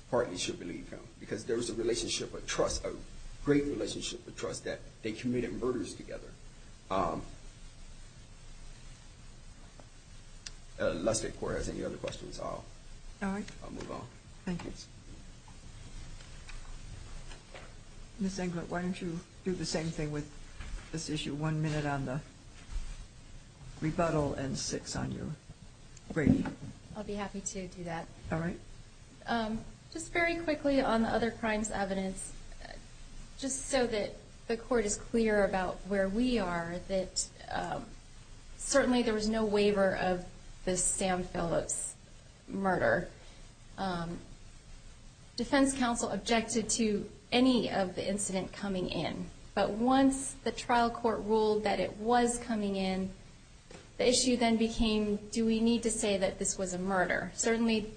partly should believe him. Because there is a relationship of trust, a great relationship of trust, that they committed murders together. Let's take questions. Any other questions, I'll move on. All right. Thank you. Ms. Englert, why don't you do the same thing with this issue. One minute on the rebuttal and six on your brief. I'll be happy to do that. All right. Just very quickly on the other crimes evidence, just so that the court is clear about where we are, certainly there was no waiver of the Sam Phillips murder. Defense counsel objected to any of the incident coming in. But once the trial court ruled that it was coming in, the issue then became, do we need to say that this was a murder? Certainly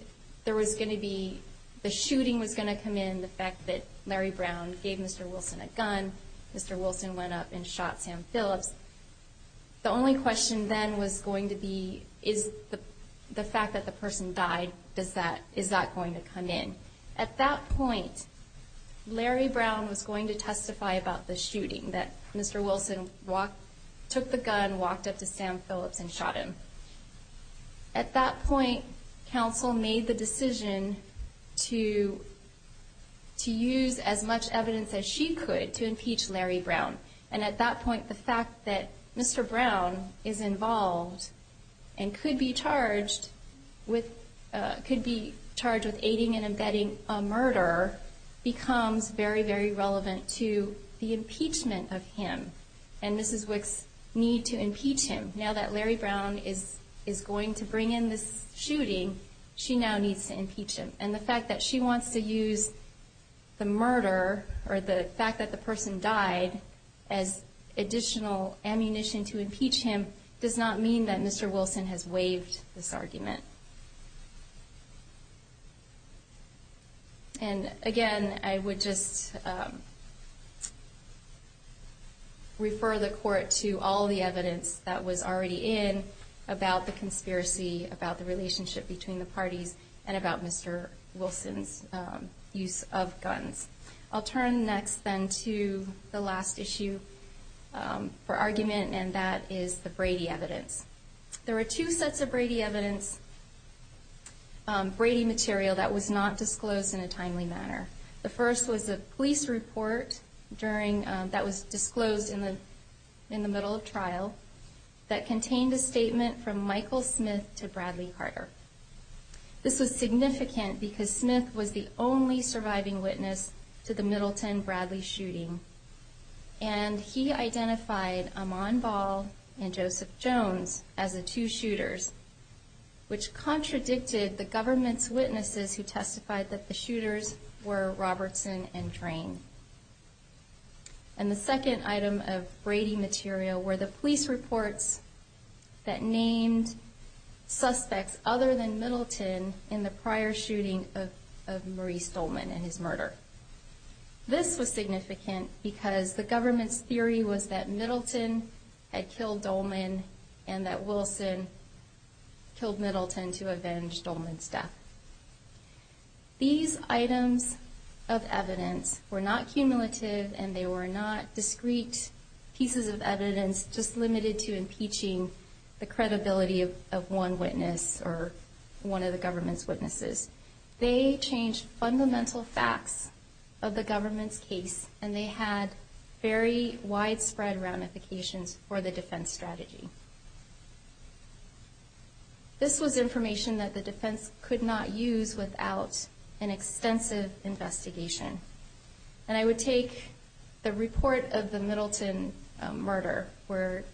there was going to be, the shooting was going to come in, the fact that Mary Brown gave Mr. Wilson a gun. Mr. Wilson went up and shot Sam Phillips. The only question then was going to be, is the fact that the person died, is that going to come in? At that point, Larry Brown was going to testify about the shooting, that Mr. Wilson took the gun, walked up to Sam Phillips and shot him. At that point, counsel made the decision to use as much evidence as she could to impeach Larry Brown. And at that point, the fact that Mr. Brown is involved and could be charged with aiding and abetting a murderer becomes very, very relevant to the impeachment of him. And this is what needs to impeach him. Now that Larry Brown is going to bring in this shooting, she now needs to impeach him. And the fact that she wants to use the murder or the fact that the person died as additional ammunition to impeach him does not mean that Mr. Wilson has waived this argument. And again, I would just refer the court to all the evidence that was already in about the conspiracy, about the relationship between the parties, and about Mr. Wilson's use of guns. I'll turn next then to the last issue for argument, and that is the Brady evidence. There were two sets of Brady material that was not disclosed in a timely manner. The first was a police report that was disclosed in the middle of trial that contained a statement from Michael Smith to Bradley Carter. This was significant because Smith was the only surviving witness to the Middleton-Bradley shooting. And he identified Amon Ball and Joseph Jones as the two shooters, which contradicted the government's witnesses who testified that the shooters were Robertson and Drain. And the second item of Brady material were the police reports that named suspects other than Middleton in the prior shooting of Maurice Dolman and his murder. This was significant because the government's theory was that Middleton had killed Dolman and that Wilson killed Middleton to avenge Dolman's death. These items of evidence were not cumulative and they were not discrete pieces of evidence just limited to impeaching the credibility of one witness or one of the government's witnesses. They changed fundamental facts of the government's case and they had very widespread ramifications for the defense strategy. This was information that the defense could not use without an extensive investigation. And I would take the report of the Middleton murder where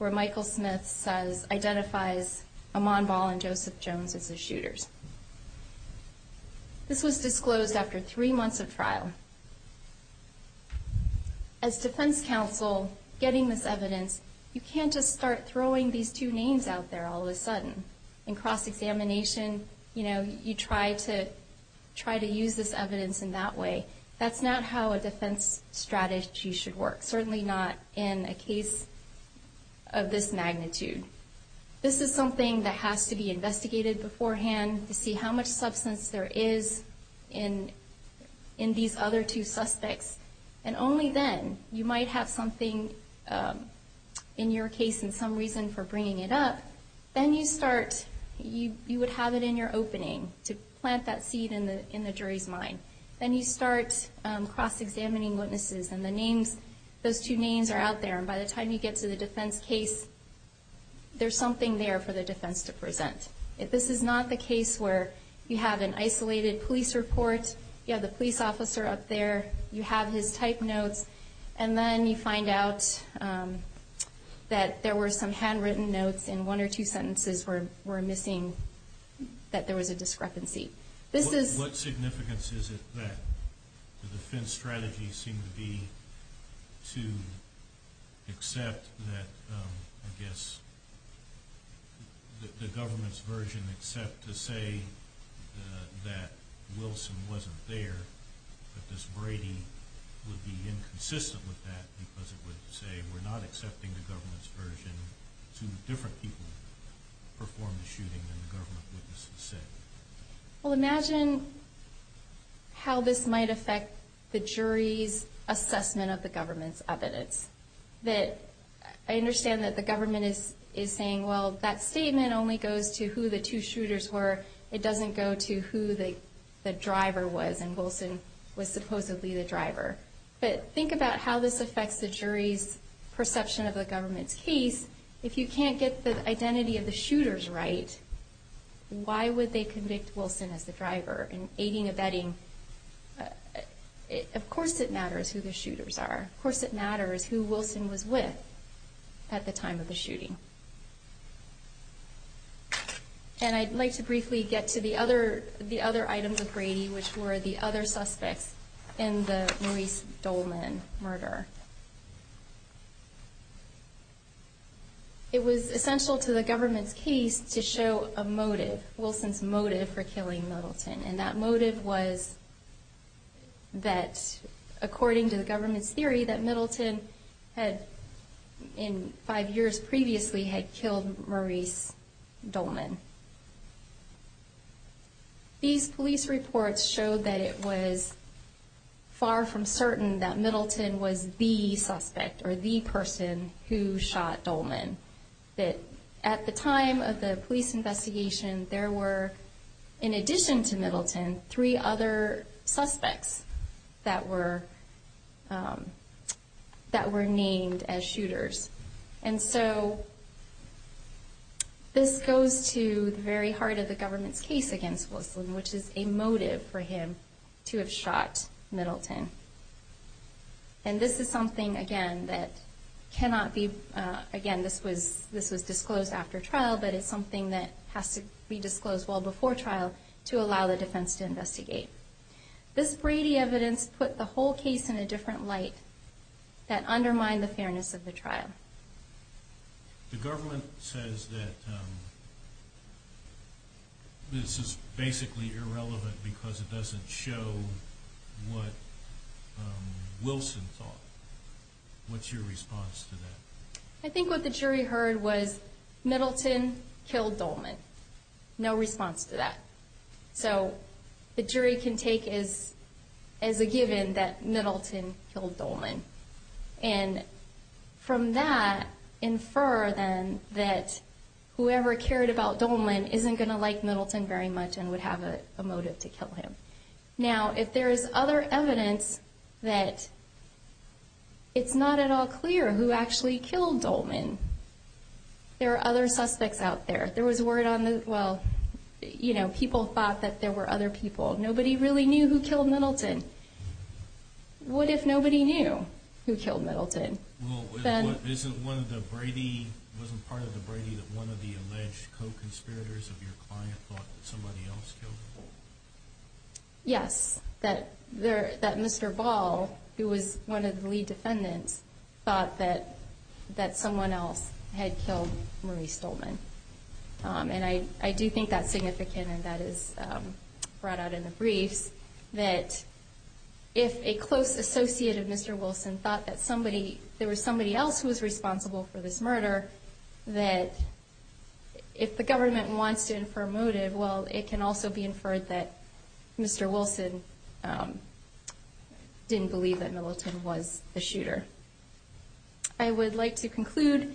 Michael Smith identifies Amon Ball and Joseph Jones as the shooters. This was disclosed after three months of trial. As defense counsel, getting this evidence, you can't just start throwing these two names out there all of a sudden. In cross-examination, you know, you try to use this evidence in that way. That's not how a defense strategy should work, certainly not in a case of this magnitude. This is something that has to be investigated beforehand to see how much substance there is in these other two suspects. And only then you might have something in your case and some reason for bringing it up. Then you start, you would have it in your opening to plant that seed in the jury's mind. Then you start cross-examining witnesses and the names, those two names are out there. By the time you get to the defense case, there's something there for the defense to present. If this is not the case where you have an isolated police report, you have the police officer up there, you have his type notes, and then you find out that there were some handwritten notes and one or two sentences were missing, that there was a discrepancy. What significance is it that the defense strategy seemed to be to accept that, I guess, the government's version except to say that Wilson wasn't there, that this Brady would be inconsistent with that because it would say we're not accepting the government's version to the different people who performed the shooting and the government wouldn't accept it? Well, imagine how this might affect the jury's assessment of the government's evidence. I understand that the government is saying, well, that statement only goes to who the two shooters were. It doesn't go to who the driver was, and Wilson was supposedly the driver. But think about how this affects the jury's perception of the government's case. If you can't get the identity of the shooters right, why would they convict Wilson as the driver in aiding or abetting? Of course it matters who the shooters are. Of course it matters who Wilson was with at the time of the shooting. And I'd like to briefly get to the other items of Brady, which were the other suspects in the Louise Dolman murder. It was essential to the government's case to show a motive, Wilson's motive for killing Middleton. And that motive was that, according to the government's theory, that Middleton had, in five years previously, had killed Maurice Dolman. These police reports show that it was far from certain that Middleton was the suspect or the person who shot Dolman. At the time of the police investigation, there were, in addition to Middleton, three other suspects that were named as shooters. And so, this goes to the very heart of the government's case against Wilson, which is a motive for him to have shot Middleton. And this is something, again, that cannot be, again, this was disclosed after trial, but it's something that has to be disclosed well before trial to allow the defense to investigate. This Brady evidence put the whole case in a different light that undermined the fairness of the trial. The government says that this is basically irrelevant because it doesn't show what Wilson thought. What's your response to that? I think what the jury heard was, Middleton killed Dolman. No response to that. So, the jury can take it as a given that Middleton killed Dolman. And from that, infer then that whoever cared about Dolman isn't going to like Middleton very much and would have a motive to kill him. Now, if there's other evidence that it's not at all clear who actually killed Dolman, there are other suspects out there. There was word on, well, you know, people thought that there were other people. Nobody really knew who killed Middleton. What if nobody knew who killed Middleton? Well, isn't one of the Brady, wasn't part of the Brady that one of the alleged co-conspirators of your client thought somebody else killed him? Yes, that Mr. Ball, who was one of the lead defendants, thought that someone else had killed Maurice Dolman. And I do think that's significant and that is brought out in the brief that if a close associate of Mr. Wilson thought that there was somebody else who was responsible for this murder, that if the government wants to infer motive, well, it can also be inferred that Mr. Wilson didn't believe that Middleton was the shooter. I would like to conclude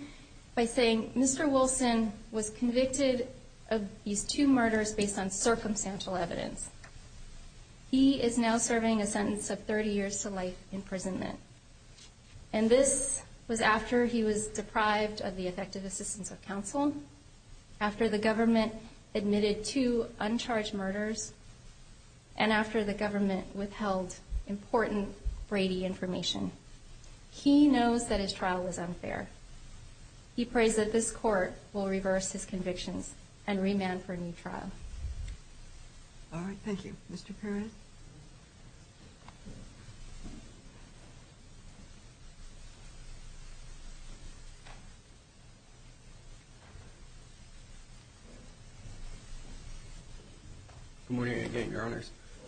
by saying Mr. Wilson was convicted of these two murders based on circumstantial evidence. He is now serving a sentence of 30 years to life imprisonment. And this was after he was deprived of the effective assistance of counsel, after the government admitted two uncharged murders, and after the government withheld important Brady information. He knows that his trial was unfair. He prays that this court will reverse his conviction and remand for a new trial. All right, thank you. Mr. Perez? Good morning again, Your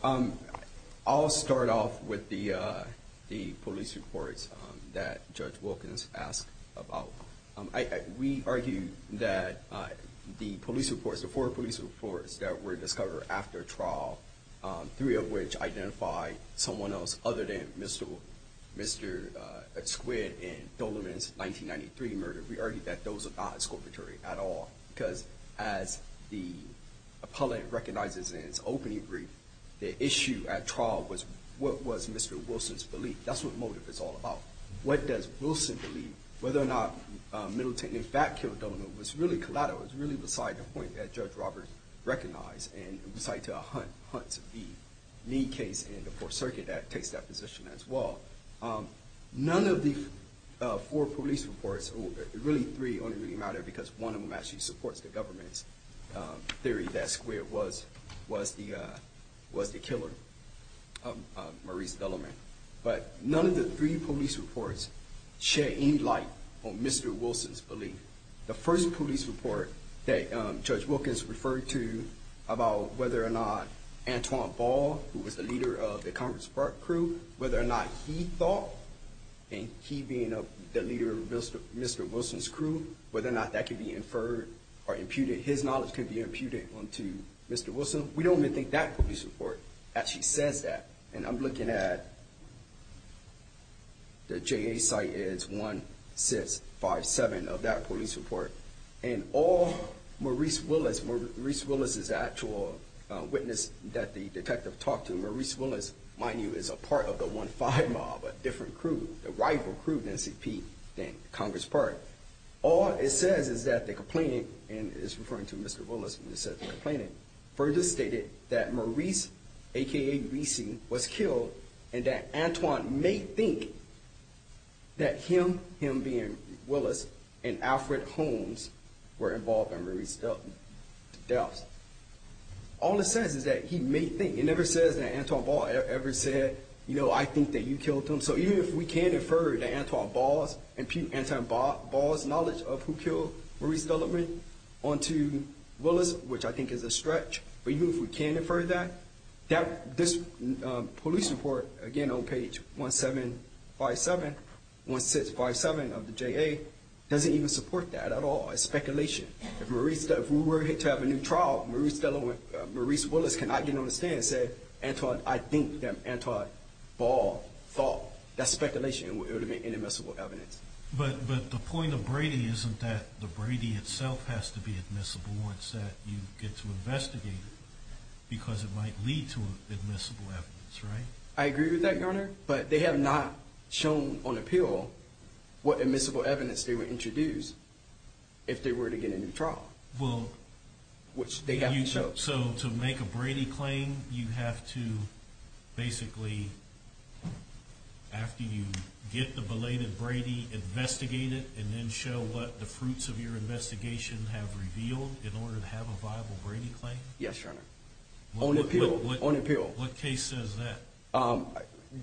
Honor. I'll start off with the police reports that Judge Wilkins asked about. We argue that the police reports, the four police reports that were discovered after trial, three of which identify someone else other than Mr. Squid in Dolman's 1993 murder, we argue that those are not exculpatory at all because as the appellant recognizes in his opening brief, the issue at trial was what was Mr. Wilson's belief. That's what motive is all about. What does Wilson believe? Whether or not Middleton in fact killed Dolman was really collateral. It was really beside the point that Judge Roberts recognized and tried to hunt the knee case in the Fourth Circuit that takes that position as well. None of these four police reports, really three only really matter because one of them actually supports the government's theory that Squid was the killer of Maurice Dolman. But none of the three police reports share any light on Mr. Wilson's belief. The first police report that Judge Wilkins referred to about whether or not Antoine Ball, who was the leader of the Congress Spark crew, whether or not he thought, and he being the leader of Mr. Wilson's crew, whether or not that could be inferred or imputed, his knowledge could be imputed onto Mr. Wilson, we don't even think that police report actually says that. And I'm looking at the JA site is 1657 of that police report. And all Maurice Willis, Maurice Willis is the actual witness that the detective talked to. Maurice Willis, mind you, is a part of the 15 mob, a different crew, the rival crew of NCP and Congress Spark. All it says is that the complainant, and it's referring to Mr. Willis, further stated that Maurice, a.k.a. Greasy, was killed, and that Antoine may think that him, him being Willis, and Alfred Holmes were involved in Maurice Dolman's death. All it says is that he may think. It never says that Antoine Ball ever said, you know, I think that you killed him. And so even if we can infer that Antoine Ball's knowledge of who killed Maurice Dolman onto Willis, which I think is a stretch, but even if we can infer that, this police report, again on page 1757, 1657 of the JA, doesn't even support that at all. It's speculation. If we were to have a new trial, Maurice Willis cannot get on the stand and say, Antoine, I think that Antoine Ball thought that speculation would be inadmissible evidence. But the point of Brady isn't that the Brady itself has to be admissible. It's that you get to investigate it because it might lead to admissible evidence, right? I agree with that, Your Honor, but they have not shown on appeal what admissible evidence they would introduce if they were to get into trial, which they haven't shown. So to make a Brady claim, you have to basically, after you get the belated Brady, investigate it and then show what the fruits of your investigation have revealed in order to have a viable Brady claim? Yes, Your Honor. On appeal. On appeal. What case says that?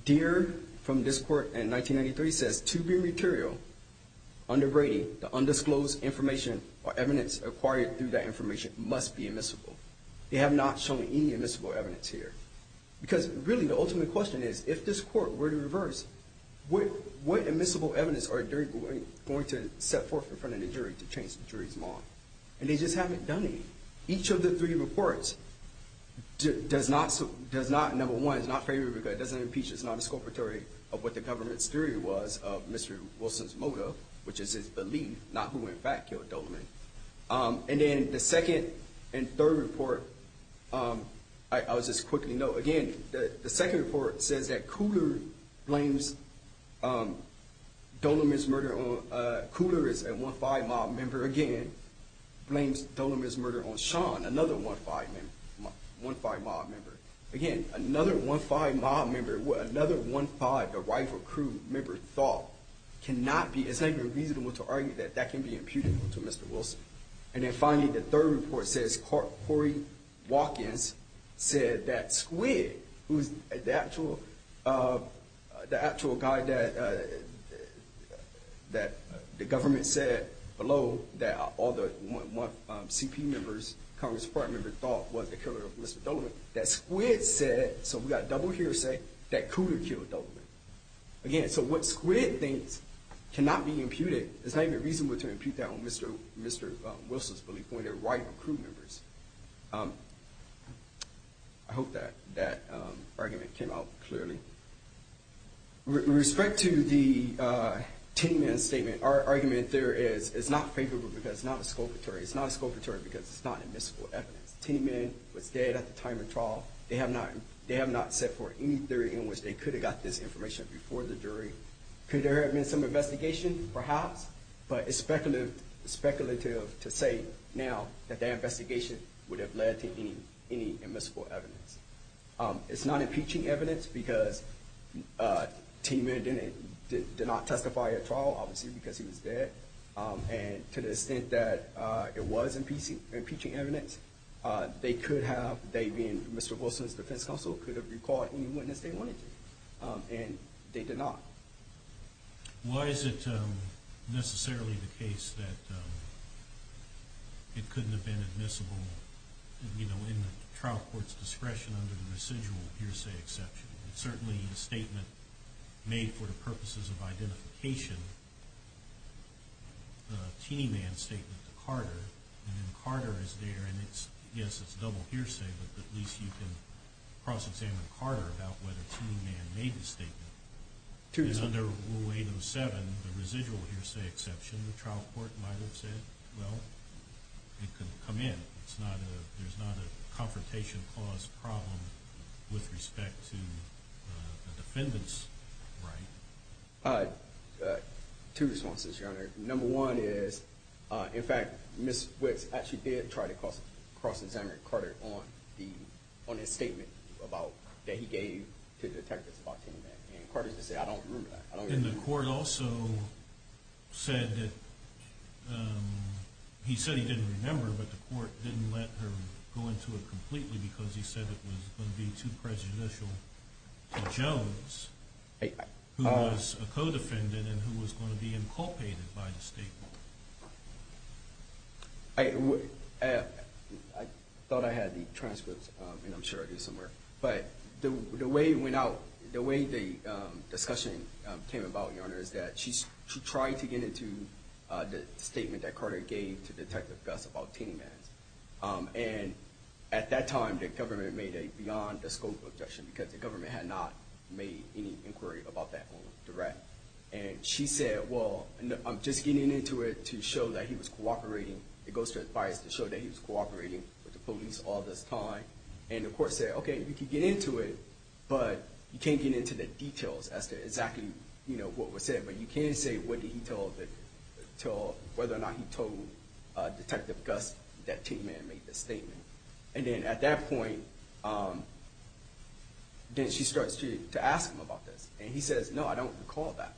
Deere from this court in 1993 says, to be material under Brady, the undisclosed information or evidence acquired through that information must be admissible. They have not shown any admissible evidence here. Because, really, the ultimate question is, if this court were to reverse, what admissible evidence are jury going to set forth in front of the jury to change the jury's mind? And they just haven't done any. Each of the three reports does not, number one, does not favor, does not impeach, does not disculpatory of what the government's theory was of Mr. Wilson's motive, which is his belief, not who in fact killed Doleman. And then the second and third report, I'll just quickly note, again, the second report says that Coulter blames Doleman's murder on, Coulter is a 1-5 mob member, again, blames Doleman's murder on Sean, another 1-5 mob member. Again, another 1-5 mob member, another 1-5, a rifle crew member, thought, cannot be, it's unreasonable to argue that that can be imputable to Mr. Wilson. And then finally, the third report says, Cory Watkins said that Squid, who's the actual guy that the government said, below, that all the 1-1 CP members, Congress department members, thought was the killer of Mr. Doleman, that Squid said, so we've got Doleman here to say that Coulter killed Doleman. Again, so what Squid thinks cannot be imputed, it's not even reasonable to impute that on Mr. Wilson's belief, when they're rifle crew members. I hope that argument came out clearly. With respect to the Tinneyman statement, our argument there is, it's not favorable because it's not a sculpture, it's not a sculpture because it's not admissible evidence. Tinneyman was dead at the time of the trial. They have not set forth any theory in which they could have got this information before the jury. Could there have been some investigation? Perhaps, but it's speculative to say now that their investigation would have led to any admissible evidence. It's not impeaching evidence because Tinneyman did not testify at all, obviously, because he was dead. To the extent that it was impeaching evidence, they could have, they being Mr. Wilson's defense counsel, could have required any witness testimony, and they did not. Why is it necessarily the case that it couldn't have been admissible, you know, in trial court's discretion under the residual hearsay exception? Certainly the statement made for the purposes of identification, Tinneyman's statement to Carter, and then Carter is there, and it's, yes, it's a double hearsay, but at least you can cross-examine Carter about whether Tinneyman made the statement. Under Rule 8 and 7, the residual hearsay exception, the trial court might have said, no, it couldn't come in. There's not a confrontation clause problem with respect to the defendant's right. Two responses, Your Honor. Number one is, in fact, Ms. Wicks actually did try to cross-examine Carter on the, on his statement about, that he gave to the defendant about Tinneyman, and Carter just said, I don't agree with that. And the court also said that, he said he didn't remember, but the court didn't let him go into it completely because he said it was going to be too prejudicial to Jones, who was a co-defendant and who was going to be inculcated by the state board. I thought I had the transcripts, and I'm sure it is somewhere, but the way it went out, the way the discussion came about, Your Honor, is that she tried to get into the statement that Carter gave to Detective Gus about Tinneyman. And at that time, the government made a beyond-the-scope objection because the government had not made any inquiry about that on the direct. And she said, well, I'm just getting into it to show that he was cooperating, it goes to advice to show that he was cooperating with the police all this time. And the court said, okay, you can get into it, but you can't get into the details as to exactly what was said, but you can say whether or not he told Detective Gus that Tinneyman made the statement. And then at that point, then she starts to ask him about this, and he says, no, I don't recall that.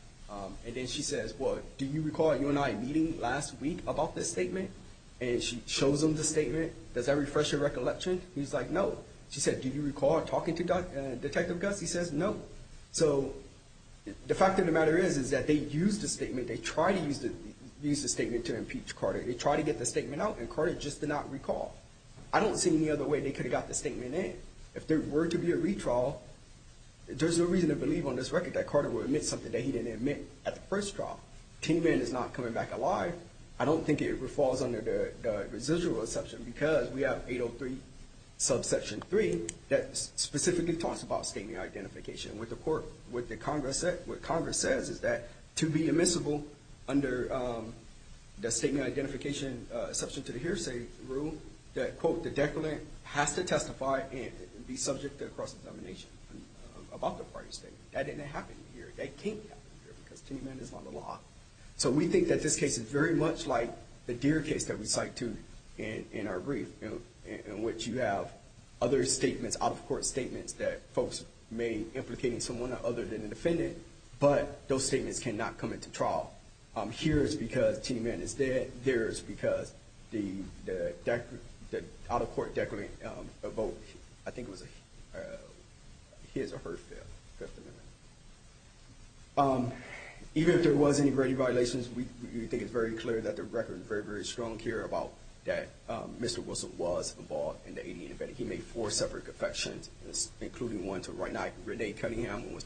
And then she says, well, do you recall you and I meeting last week about this statement? And she shows him the statement. Does that refresh your recollection? He's like, no. She said, do you recall talking to Detective Gus? He says, no. So the fact of the matter is that they used the statement, they tried to use the statement to impeach Carter. They tried to get the statement out, and Carter just did not recall. I don't see any other way they could have got the statement in. If there were to be a retrial, there's no reason to believe on this record that Carter would admit something that he didn't admit at the first trial. Tinneyman is not coming back alive. I don't think it falls under the residual exception because we have 803 subsection 3 that specifically talks about statement identification with the court. What Congress says is that to be admissible under the statement identification section to the hearsay rule that, quote, the declarant has to testify and be subject to cross-examination. That didn't happen here. That can't happen here because Tinneyman is on the law. So we think that this case is very much like the Deere case that we cite, too, in our brief, in which you have other statements, out-of-court statements that folks may implicate in someone other than the defendant, but those statements cannot come into trial. Here it's because Tinneyman is dead. There it's because the out-of-court declarant votes. I think it was a hearsay. Even if there was any verdict violations, we think it's very clear that the record is very, very strong here about that Mr. Wilson was involved in the alien event. He made four separate confessions, including one to Renee Cunningham, who was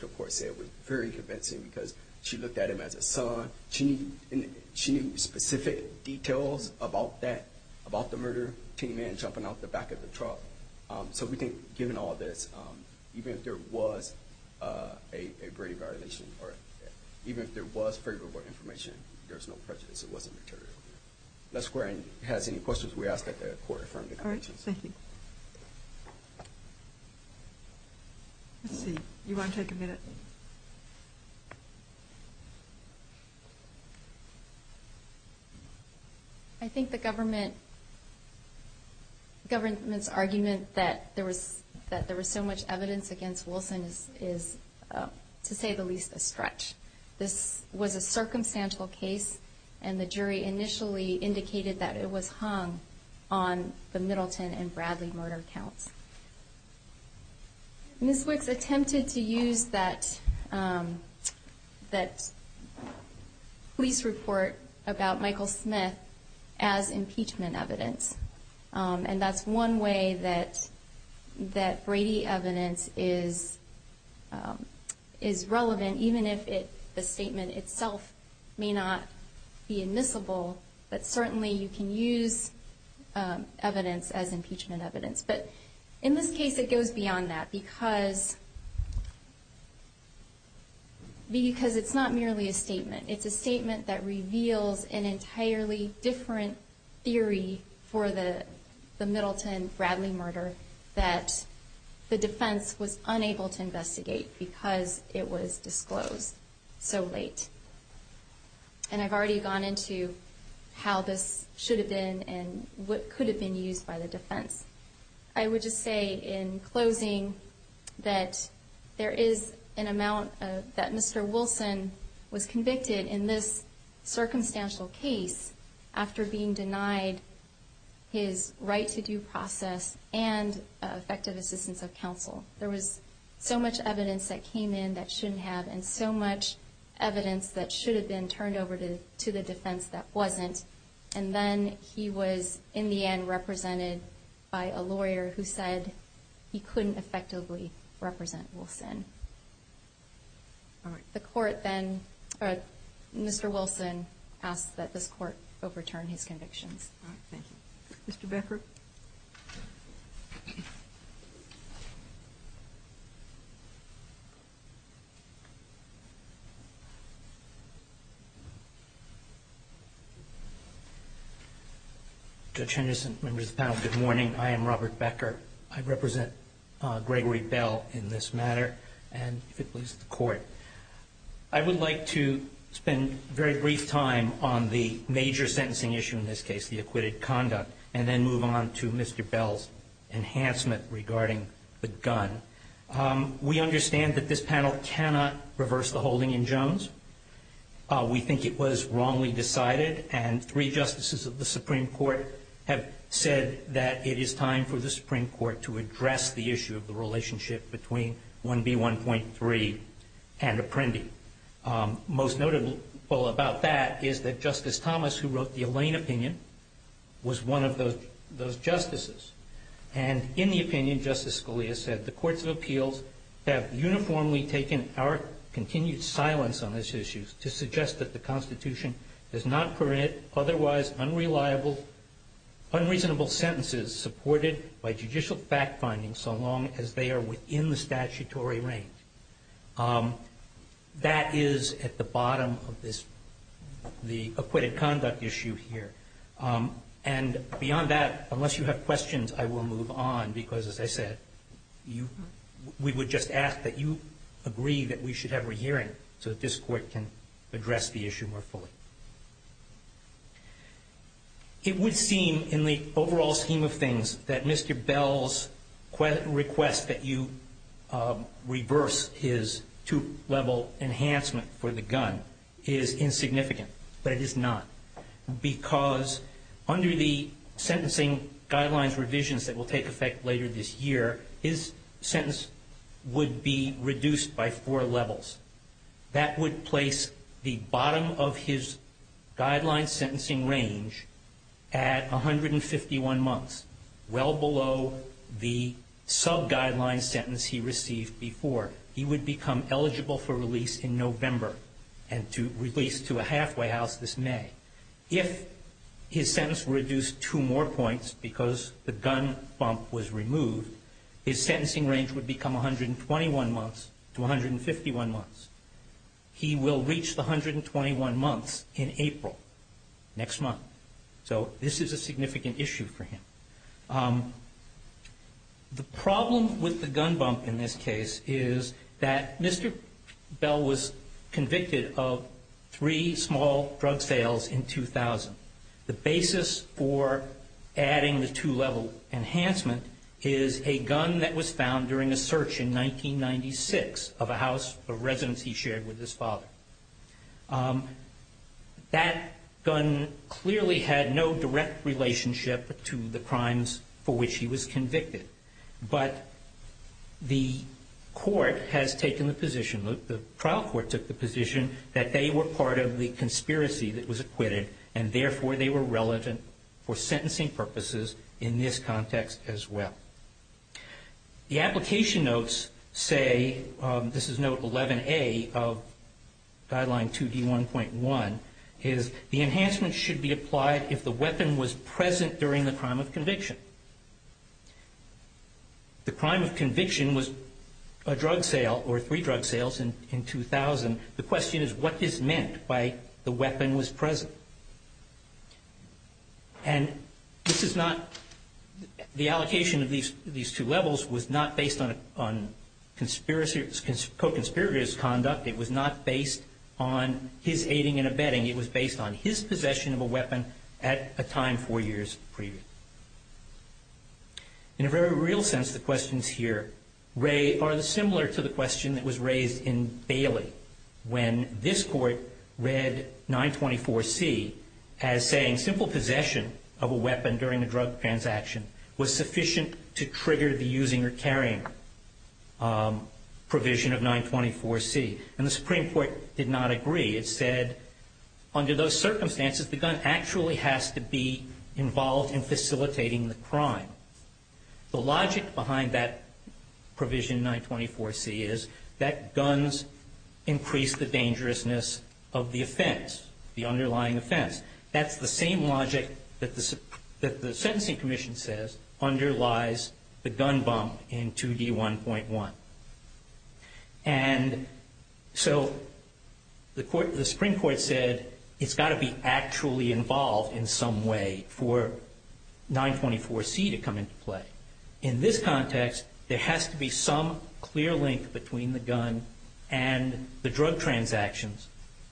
very convincing because she looked at him as a son. She knew specific details about that, about the murder of Tinneyman jumping out the back of the truck. So we think, given all of this, even if there was a verdict violation, even if there was favorable information, there's no prejudice. It wasn't deterred. Does anyone have any questions we ask at the court? Thank you. Let's see. You want to take a minute? I think the government's argument that there was so much evidence against Wilson is, to say the least, a stretch. This was a circumstantial case, and the jury initially indicated that it was hung on the Middleton and Bradley murder counts. This was attempted to use that police report about Michael Smith as impeachment evidence, and that's one way that Brady evidence is relevant, even if the statement itself may not be admissible, but certainly you can use evidence as impeachment evidence. But in this case, it goes beyond that because it's not merely a statement. It's a statement that reveals an entirely different theory for the Middleton-Bradley murder that the defense was unable to investigate because it was disclosed. So wait. And I've already gone into how this should have been and what could have been used by the defense. I would just say in closing that there is an amount that Mr. Wilson was convicted in this circumstantial case after being denied his right to due process and effective assistance of counsel. There was so much evidence that came in that shouldn't have and so much evidence that should have been turned over to the defense that wasn't, and then he was, in the end, represented by a lawyer who said he couldn't effectively represent Wilson. All right. The court then – Mr. Wilson asked that the court overturn his conviction. All right. Thank you. Mr. Bedford? Judge Henderson, members of the panel, good morning. I am Robert Becker. I represent Gregory Bell in this matter and the police and the court. I would like to spend a very brief time on the major sentencing issue in this case, the acquitted conduct, and then move on to Mr. Bell's enhancement regarding the gun. We understand that this panel cannot reverse the holding in Jones. We think it was wrongly decided, and three justices of the Supreme Court have said that it is time for the Supreme Court to address the issue of the relationship between 1B1.3 and Apprendi. Most notable about that is that Justice Thomas, who wrote the Elaine opinion, was one of those justices. And in the opinion, Justice Scalia said, the courts of appeals have uniformly taken our continued silence on this issue to suggest that the Constitution does not permit otherwise unreasonable sentences supported by judicial fact-finding so long as they are within the statutory range. That is at the bottom of the acquitted conduct issue here. And beyond that, unless you have questions, I will move on because, as I said, we would just ask that you agree that we should have a hearing so that this court can address the issue more fully. It would seem, in the overall scheme of things, that Mr. Bell's request that you reverse his two-level enhancement for the gun is insignificant. But it is not. Because under the sentencing guidelines revisions that will take effect later this year, his sentence would be reduced by four levels. That would place the bottom of his guideline sentencing range at 151 months, well below the sub-guideline sentence he received before. He would become eligible for release in November and to release to a halfway house this May. If his sentence were reduced two more points because the gun bump was removed, his sentencing range would become 121 months to 151 months. He will reach the 121 months in April, next month. So this is a significant issue for him. The problem with the gun bump in this case is that Mr. Bell was convicted of three small drug sales in 2000. The basis for adding the two-level enhancement is a gun that was found during a search in 1996 of a house of residence he shared with his father. That gun clearly had no direct relationship to the crimes for which he was convicted. But the court has taken the position, the trial court took the position, that they were part of the conspiracy that was acquitted and therefore they were relevant for sentencing purposes in this context as well. The application notes say, this is note 11A of guideline 2D1.1, is the enhancement should be applied if the weapon was present during the crime of conviction. The crime of conviction was a drug sale or three drug sales in 2000. The question is what is meant by the weapon was present? And this is not, the allocation of these two levels was not based on co-conspirator's conduct. It was not based on his aiding and abetting. It was based on his possession of a weapon at a time four years previous. In a very real sense, the questions here are similar to the question that was raised in Bailey. When this court read 924C as saying simple possession of a weapon during a drug transaction was sufficient to trigger the using or carrying provision of 924C. And the Supreme Court did not agree. It said under those circumstances the gun actually has to be involved in facilitating the crime. The logic behind that provision 924C is that guns increase the dangerousness of the offense, the underlying offense. That's the same logic that the sentencing commission says underlies the gun bump in 2D1.1. And so the Supreme Court said it's got to be actually involved in some way for 924C to come into play. In this context, there has to be some clear link between the gun and the drug transactions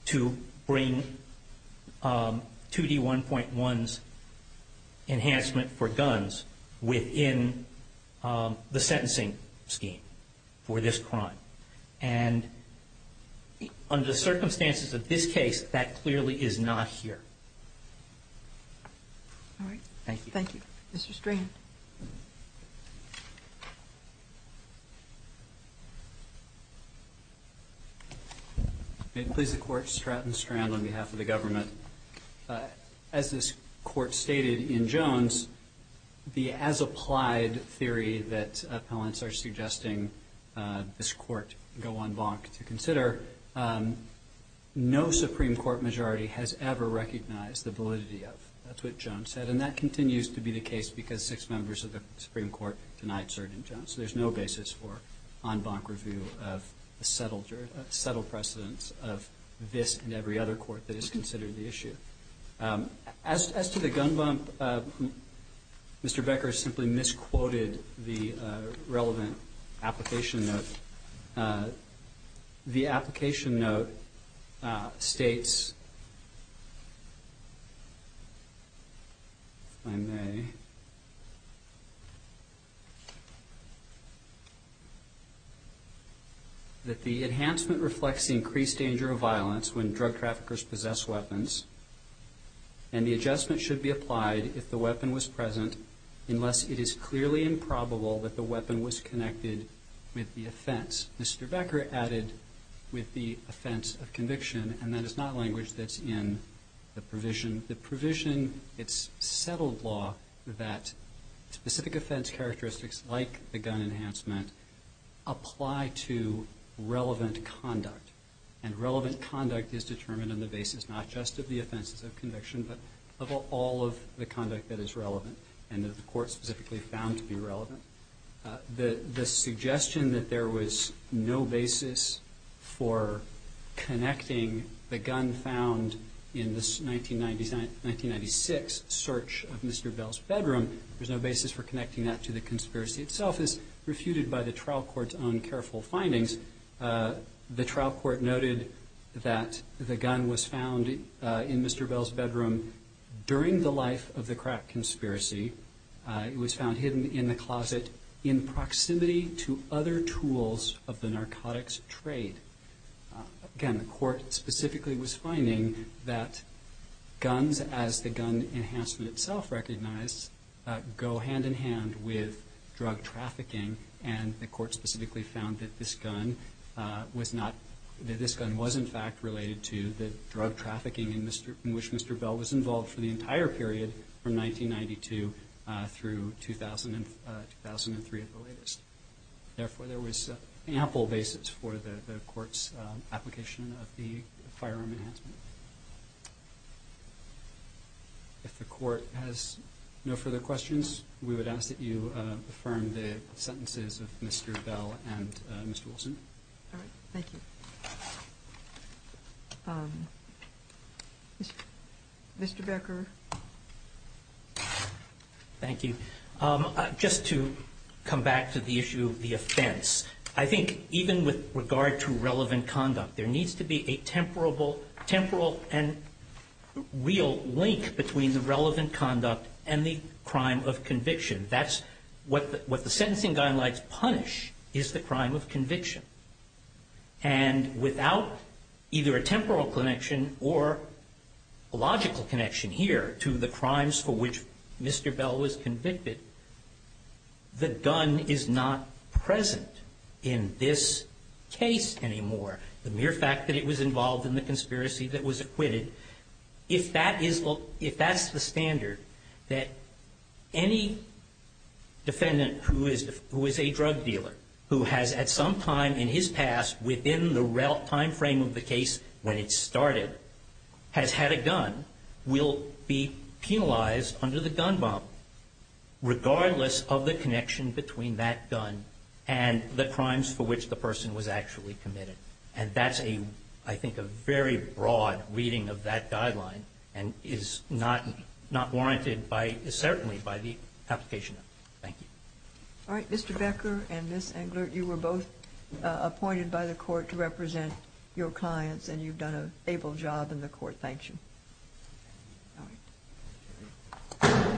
to bring 2D1.1's enhancement for guns within the sentencing scheme for this crime. And under the circumstances of this case, that clearly is not here. All right. Thank you. Thank you. Mr. Strang. May it please the Court, Stratton Strand on behalf of the government. As this Court stated in Jones, the as-applied theory that appellants are suggesting this Court go en banc to consider, no Supreme Court majority has ever recognized the validity of it. That's what Jones said. And that continues to be the case because six members of the Supreme Court denied cert in Jones. There's no basis for en banc review of the settled precedence of this and every other Court that has considered the issue. As to the gun bump, Mr. Becker simply misquoted the relevant application note. The application note states, if I may, that the enhancement reflects increased danger of violence when drug traffickers possess weapons and the adjustment should be applied if the weapon was present unless it is clearly improbable that the weapon was connected with the offense. Mr. Becker added with the offense of conviction and that is not language that's in the provision. The provision, it's settled law that specific offense characteristics like the gun enhancement apply to relevant conduct. And relevant conduct is determined on the basis not just of the offenses of conviction but of all of the conduct that is relevant and that the Court specifically found to be relevant. The suggestion that there was no basis for connecting the gun found in this 1996 search of Mr. Bell's bedroom, there's no basis for connecting that to the conspiracy itself, is refuted by the trial court's own careful findings. The trial court noted that the gun was found in Mr. Bell's bedroom during the life of the crack conspiracy. It was found hidden in a closet in proximity to other tools of the narcotics trade. Again, the court specifically was finding that guns as the gun enhancement itself recognized go hand in hand with drug trafficking and the court specifically found that this gun was in fact related to the drug trafficking in which Mr. Bell was involved for the entire period from 1992 through 2003 at the latest. Therefore, there was ample basis for the court's application of the firearm enhancement. If the court has no further questions, we would ask that you affirm the sentences of Mr. Bell and Ms. Wilson. Thank you. Mr. Becker. Thank you. Just to come back to the issue of the offense, I think even with regard to relevant conduct, there needs to be a temporal and real link between the relevant conduct and the crime of conviction. That's what the sentencing gun lets punish is the crime of conviction. And without either a temporal connection or a logical connection here to the crimes for which Mr. Bell was convicted, the gun is not present in this case anymore. The mere fact that it was involved in the conspiracy that was acquitted, if that's the standard that any defendant who is a drug dealer, who has at some time in his past within the time frame of the case when it started, has had a gun, will be penalized under the gun bond regardless of the connection between that gun and the crimes for which the person was actually committed. And that's, I think, a very broad reading of that guideline and is not warranted certainly by the application. Thank you. All right, Mr. Becker and Ms. Engler, you were both appointed by the court to represent your clients and you've done a stable job in the court. Thank you.